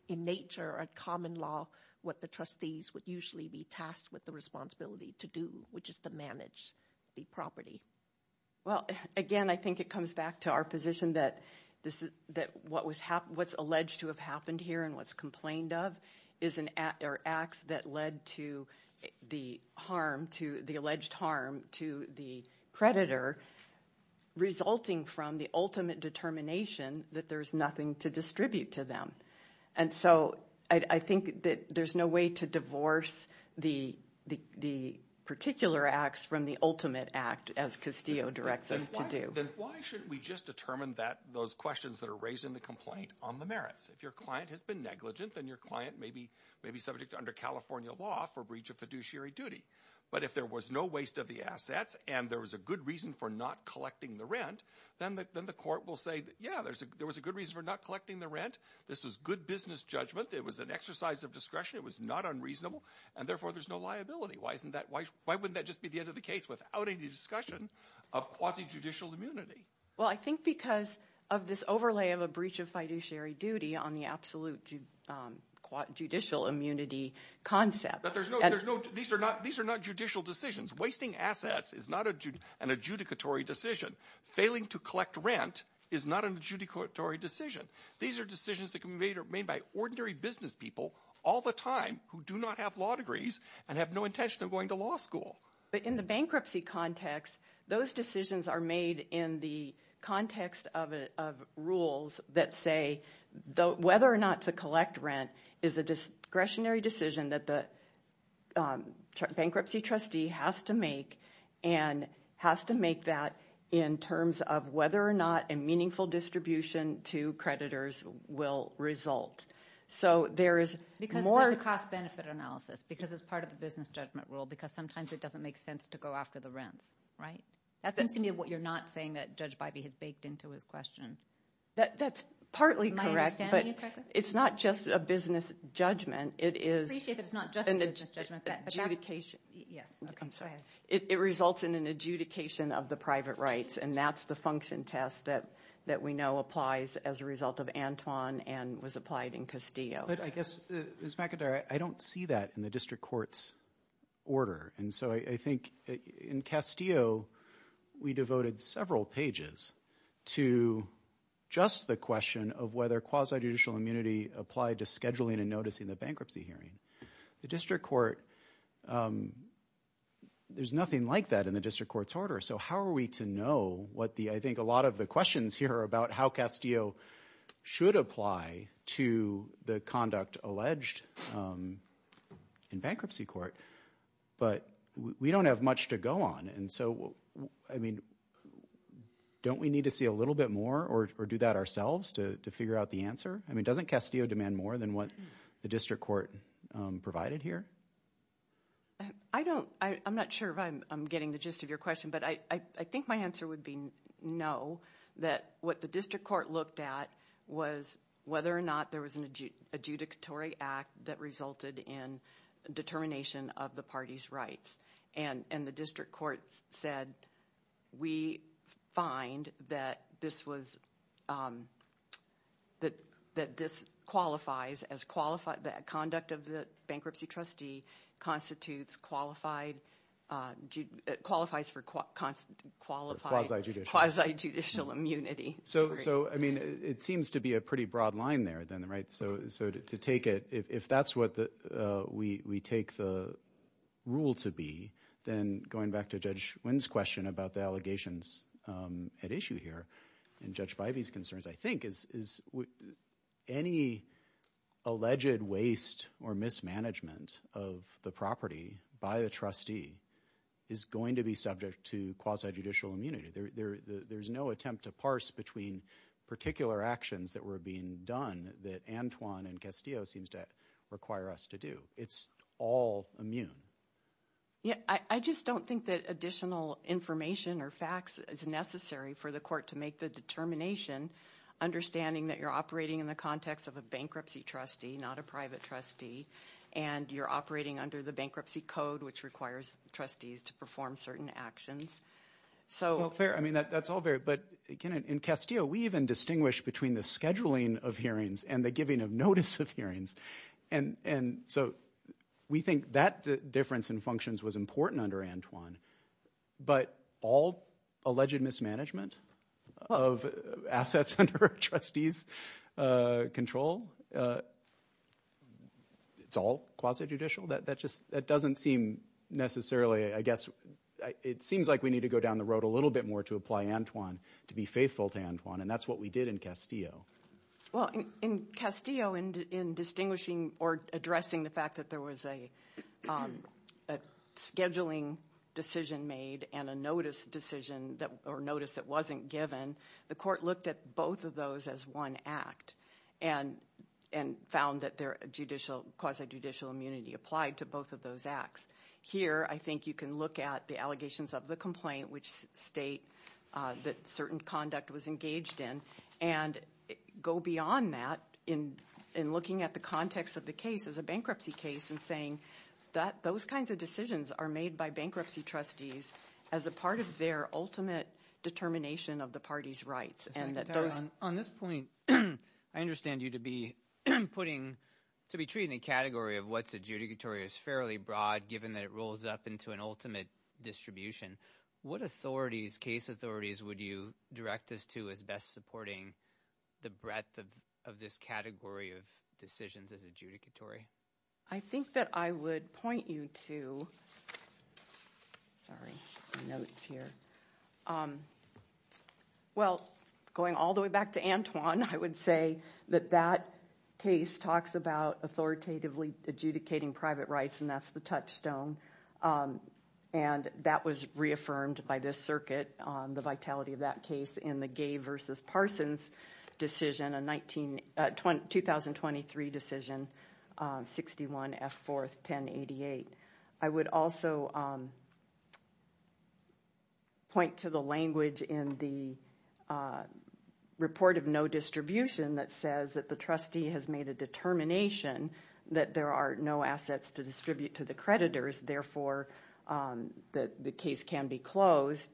in nature or common law, what the trustees would usually be tasked with the responsibility to do, which is to manage the property. Well, again, I think it comes back to our position that what's alleged to have happened here and what's complained of is an act or acts that led to the harm, to the alleged harm to the creditor, resulting from the ultimate determination that there's nothing to distribute to them. And so I think that there's no way to divorce the particular acts from the ultimate act, as Castillo directs us to do. Then why shouldn't we just determine those questions that are raised in the complaint on the merits? If your client has been negligent, then your client may be subject under California law for breach of fiduciary duty. But if there was no waste of the assets and there was a good reason for not collecting the rent, then the court will say, yeah, there was a good reason for not collecting the rent. This was good business judgment. It was an exercise of discretion. It was not unreasonable. And therefore, there's no liability. Why wouldn't that just be the end of the case without any discussion of quasi-judicial immunity? Well, I think because of this overlay of a breach of fiduciary duty on the absolute judicial immunity concept. These are not judicial decisions. Wasting assets is not an adjudicatory decision. Failing to collect rent is not an adjudicatory decision. These are decisions that can be made by ordinary business people all the time who do not have law degrees and have no intention of going to law school. But in the bankruptcy context, those decisions are made in the context of rules that say whether or not to collect rent is a discretionary decision that the bankruptcy trustee has to make and has to make that in terms of whether or not a meaningful distribution to creditors will result. Because there's a cost-benefit analysis because it's part of the business judgment rule because sometimes it doesn't make sense to go after the rents, right? That seems to me what you're not saying that Judge Bybee has baked into his question. That's partly correct. Am I understanding you correctly? It's not just a business judgment. Appreciate that it's not just a business judgment. It results in an adjudication of the private rights. And that's the function test that we know applies as a result of Antoine and was applied in Castillo. But I guess, Ms. McIntyre, I don't see that in the district court's order. And so I think in Castillo, we devoted several pages to just the question of whether quasi-judicial immunity applied to scheduling and noticing the bankruptcy hearing. The district court, there's nothing like that in the district court's order. So how are we to know what the – I think a lot of the questions here are about how Castillo should apply to the conduct alleged in bankruptcy court. But we don't have much to go on. And so, I mean, don't we need to see a little bit more or do that ourselves to figure out the answer? I mean doesn't Castillo demand more than what the district court provided here? I don't – I'm not sure if I'm getting the gist of your question, but I think my answer would be no. That what the district court looked at was whether or not there was an adjudicatory act that resulted in determination of the party's rights. And the district court said we find that this was – that this qualifies as – that conduct of the bankruptcy trustee constitutes qualified – qualifies for qualified – Or quasi-judicial. Quasi-judicial immunity. So, I mean, it seems to be a pretty broad line there then, right? So to take it – if that's what we take the rule to be, then going back to Judge Nguyen's question about the allegations at issue here and Judge Bivey's concerns, I think is any alleged waste or mismanagement of the property by a trustee is going to be subject to quasi-judicial immunity. There's no attempt to parse between particular actions that were being done that Antoine and Castillo seems to require us to do. It's all immune. Yeah, I just don't think that additional information or facts is necessary for the court to make the determination, understanding that you're operating in the context of a bankruptcy trustee, not a private trustee, and you're operating under the bankruptcy code, which requires trustees to perform certain actions. Well, fair. I mean, that's all very – but again, in Castillo, we even distinguish between the scheduling of hearings and the giving of notice of hearings. And so we think that difference in functions was important under Antoine. But all alleged mismanagement of assets under a trustee's control, it's all quasi-judicial? That doesn't seem necessarily – I guess it seems like we need to go down the road a little bit more to apply Antoine, to be faithful to Antoine, and that's what we did in Castillo. Well, in Castillo, in distinguishing or addressing the fact that there was a scheduling decision made and a notice that wasn't given, the court looked at both of those as one act and found that quasi-judicial immunity applied to both of those acts. Here, I think you can look at the allegations of the complaint, which state that certain conduct was engaged in, and go beyond that in looking at the context of the case as a bankruptcy case and saying that those kinds of decisions are made by bankruptcy trustees as a part of their ultimate determination of the party's rights. On this point, I understand you to be treating the category of what's adjudicatory as fairly broad, given that it rolls up into an ultimate distribution. What authorities, case authorities, would you direct us to as best supporting the breadth of this category of decisions as adjudicatory? I think that I would point you to – sorry, my notes here. Well, going all the way back to Antoine, I would say that that case talks about authoritatively adjudicating private rights, and that's the touchstone, and that was reaffirmed by this circuit, the vitality of that case in the Gay v. Parsons decision, a 2023 decision, 61 F. 4th, 1088. I would also point to the language in the report of no distribution that says that the trustee has made a determination that there are no assets to distribute to the creditors, therefore the case can be closed.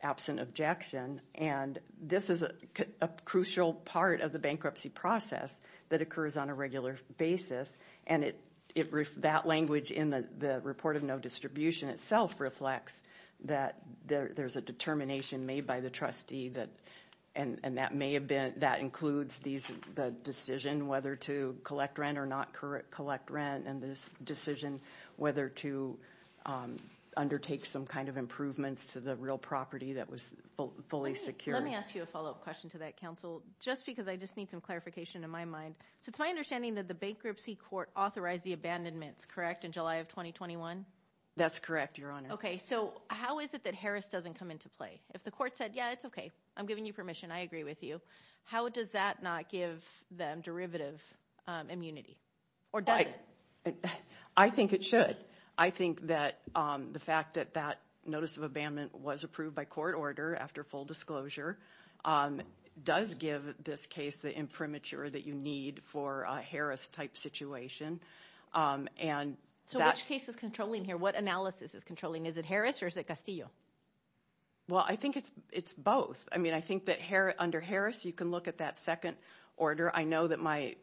Absent objection, and this is a crucial part of the bankruptcy process that occurs on a regular basis, and that language in the report of no distribution itself reflects that there's a determination made by the trustee, and that includes the decision whether to collect rent or not collect rent, and the decision whether to undertake some kind of improvements to the real property that was fully secure. Let me ask you a follow-up question to that, Counsel, just because I just need some clarification in my mind. So it's my understanding that the bankruptcy court authorized the abandonments, correct, in July of 2021? That's correct, Your Honor. Okay, so how is it that Harris doesn't come into play? If the court said, yeah, it's okay, I'm giving you permission, I agree with you, how does that not give them derivative immunity, or does it? I think it should. I think that the fact that that notice of abandonment was approved by court order after full disclosure does give this case the imprimatur that you need for a Harris-type situation. So which case is controlling here? What analysis is controlling? Is it Harris or is it Castillo? Well, I think it's both. I mean, I think that under Harris you can look at that second order. I know that my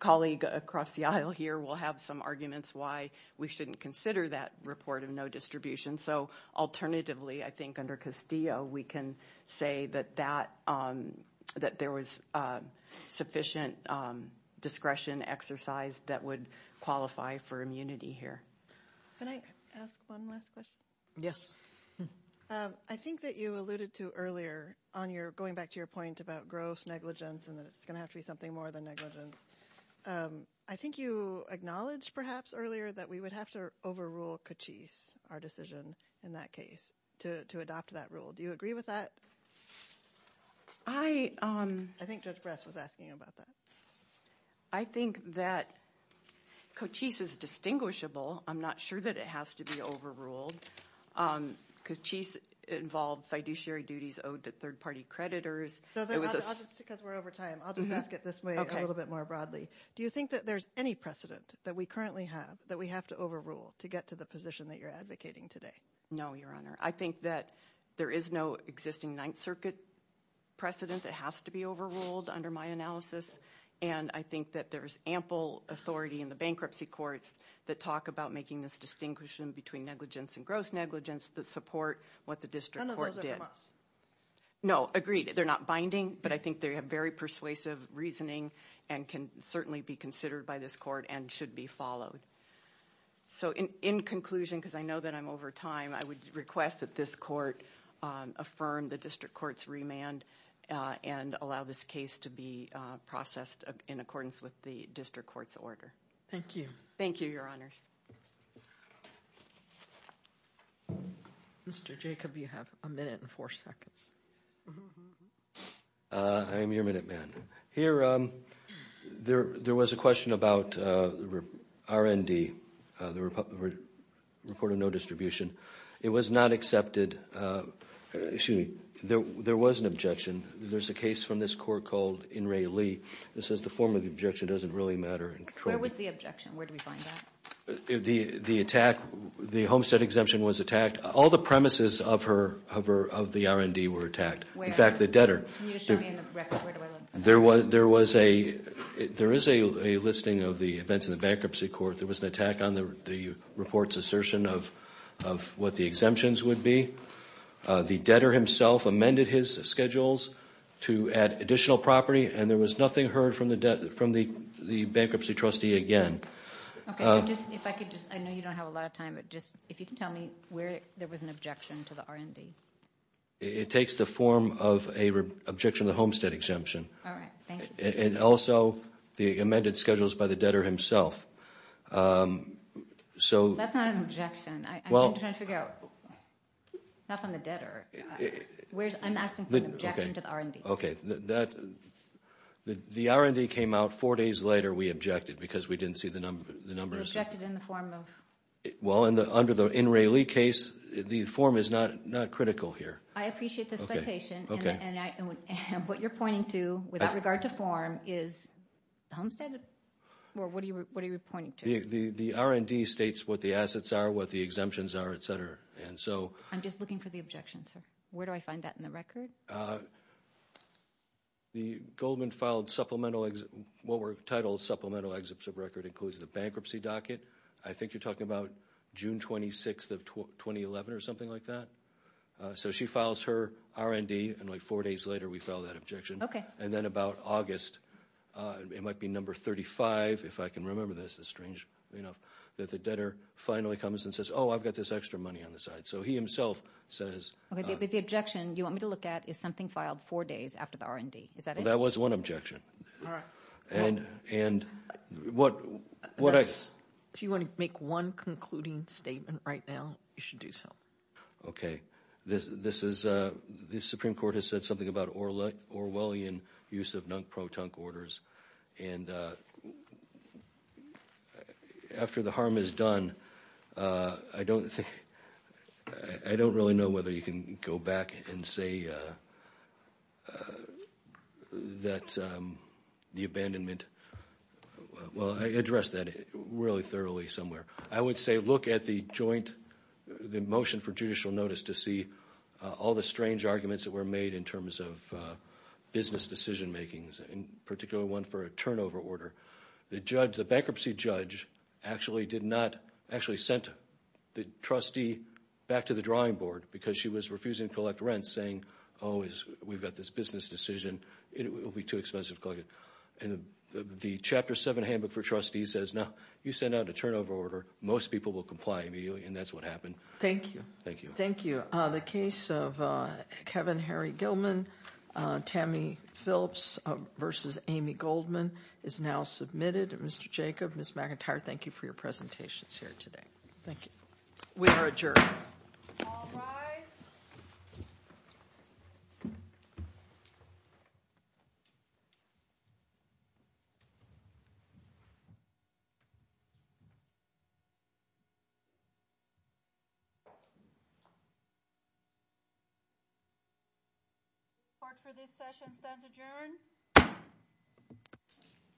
colleague across the aisle here will have some arguments why we shouldn't consider that report of no distribution. So alternatively, I think under Castillo we can say that there was sufficient discretion exercise that would qualify for immunity here. Can I ask one last question? Yes. I think that you alluded to earlier on your going back to your point about gross negligence and that it's going to have to be something more than negligence. I think you acknowledged perhaps earlier that we would have to overrule Cochise, our decision in that case, to adopt that rule. Do you agree with that? I think Judge Bress was asking about that. I think that Cochise is distinguishable. I'm not sure that it has to be overruled. Cochise involved fiduciary duties owed to third-party creditors. Just because we're over time, I'll just ask it this way a little bit more broadly. Do you think that there's any precedent that we currently have that we have to overrule to get to the position that you're advocating today? No, Your Honor. I think that there is no existing Ninth Circuit precedent that has to be overruled under my analysis. And I think that there is ample authority in the bankruptcy courts that talk about making this distinction between negligence and gross negligence that support what the district court did. None of those are from us. No, agreed. They're not binding, but I think they have very persuasive reasoning and can certainly be considered by this court and should be followed. So in conclusion, because I know that I'm over time, I would request that this court affirm the district court's remand and allow this case to be processed in accordance with the district court's order. Thank you. Thank you, Your Honors. Mr. Jacob, you have a minute and four seconds. I am your minute man. Here, there was a question about R&D, the report of no distribution. It was not accepted. Excuse me. There was an objection. There's a case from this court called In Ray Lee that says the form of the objection doesn't really matter. Where was the objection? Where did we find that? The attack, the Homestead exemption was attacked. All the premises of the R&D were attacked. In fact, the debtor. Can you just show me in the record? Where do I look? There is a listing of the events in the bankruptcy court. There was an attack on the report's assertion of what the exemptions would be. The debtor himself amended his schedules to add additional property, and there was nothing heard from the bankruptcy trustee again. I know you don't have a lot of time, but if you could tell me where there was an objection to the R&D. It takes the form of an objection to the Homestead exemption. All right. Thank you. And also the amended schedules by the debtor himself. That's not an objection. I'm trying to figure out. It's not from the debtor. I'm asking for an objection to the R&D. Okay. The R&D came out four days later. We objected because we didn't see the numbers. You objected in the form of? Well, under the In Ray Lee case, the form is not critical here. I appreciate this citation. And what you're pointing to, without regard to form, is the Homestead? Or what are you pointing to? The R&D states what the assets are, what the exemptions are, et cetera. I'm just looking for the objection, sir. Where do I find that in the record? The Goldman filed supplemental exit. What were titled supplemental exits of record includes the bankruptcy docket. I think you're talking about June 26th of 2011 or something like that. So she files her R&D, and, like, four days later we file that objection. Okay. And then about August, it might be number 35, if I can remember this. It's strange enough that the debtor finally comes and says, oh, I've got this extra money on the side. So he himself says. Okay, but the objection you want me to look at is something filed four days after the R&D. Is that it? Well, that was one objection. All right. And what I... If you want to make one concluding statement right now, you should do so. Okay. This is... The Supreme Court has said something about Orwellian use of non-proton orders. And after the harm is done, I don't think... I don't really know whether you can go back and say that the abandonment... Well, I addressed that really thoroughly somewhere. I would say look at the joint... The motion for judicial notice to see all the strange arguments that were made in terms of business decision makings. In particular, one for a turnover order. The judge... The bankruptcy judge actually did not... Actually sent the trustee back to the drawing board because she was refusing to collect rents saying, oh, we've got this business decision. It will be too expensive to collect it. And the Chapter 7 handbook for trustees says, no, you send out a turnover order. Most people will comply immediately. And that's what happened. Thank you. Thank you. Thank you. The case of Kevin Harry Gilman, Tammy Phillips v. Amy Goldman is now submitted. Mr. Jacob, Ms. McIntyre, thank you for your presentations here today. Thank you. We are adjourned. All rise.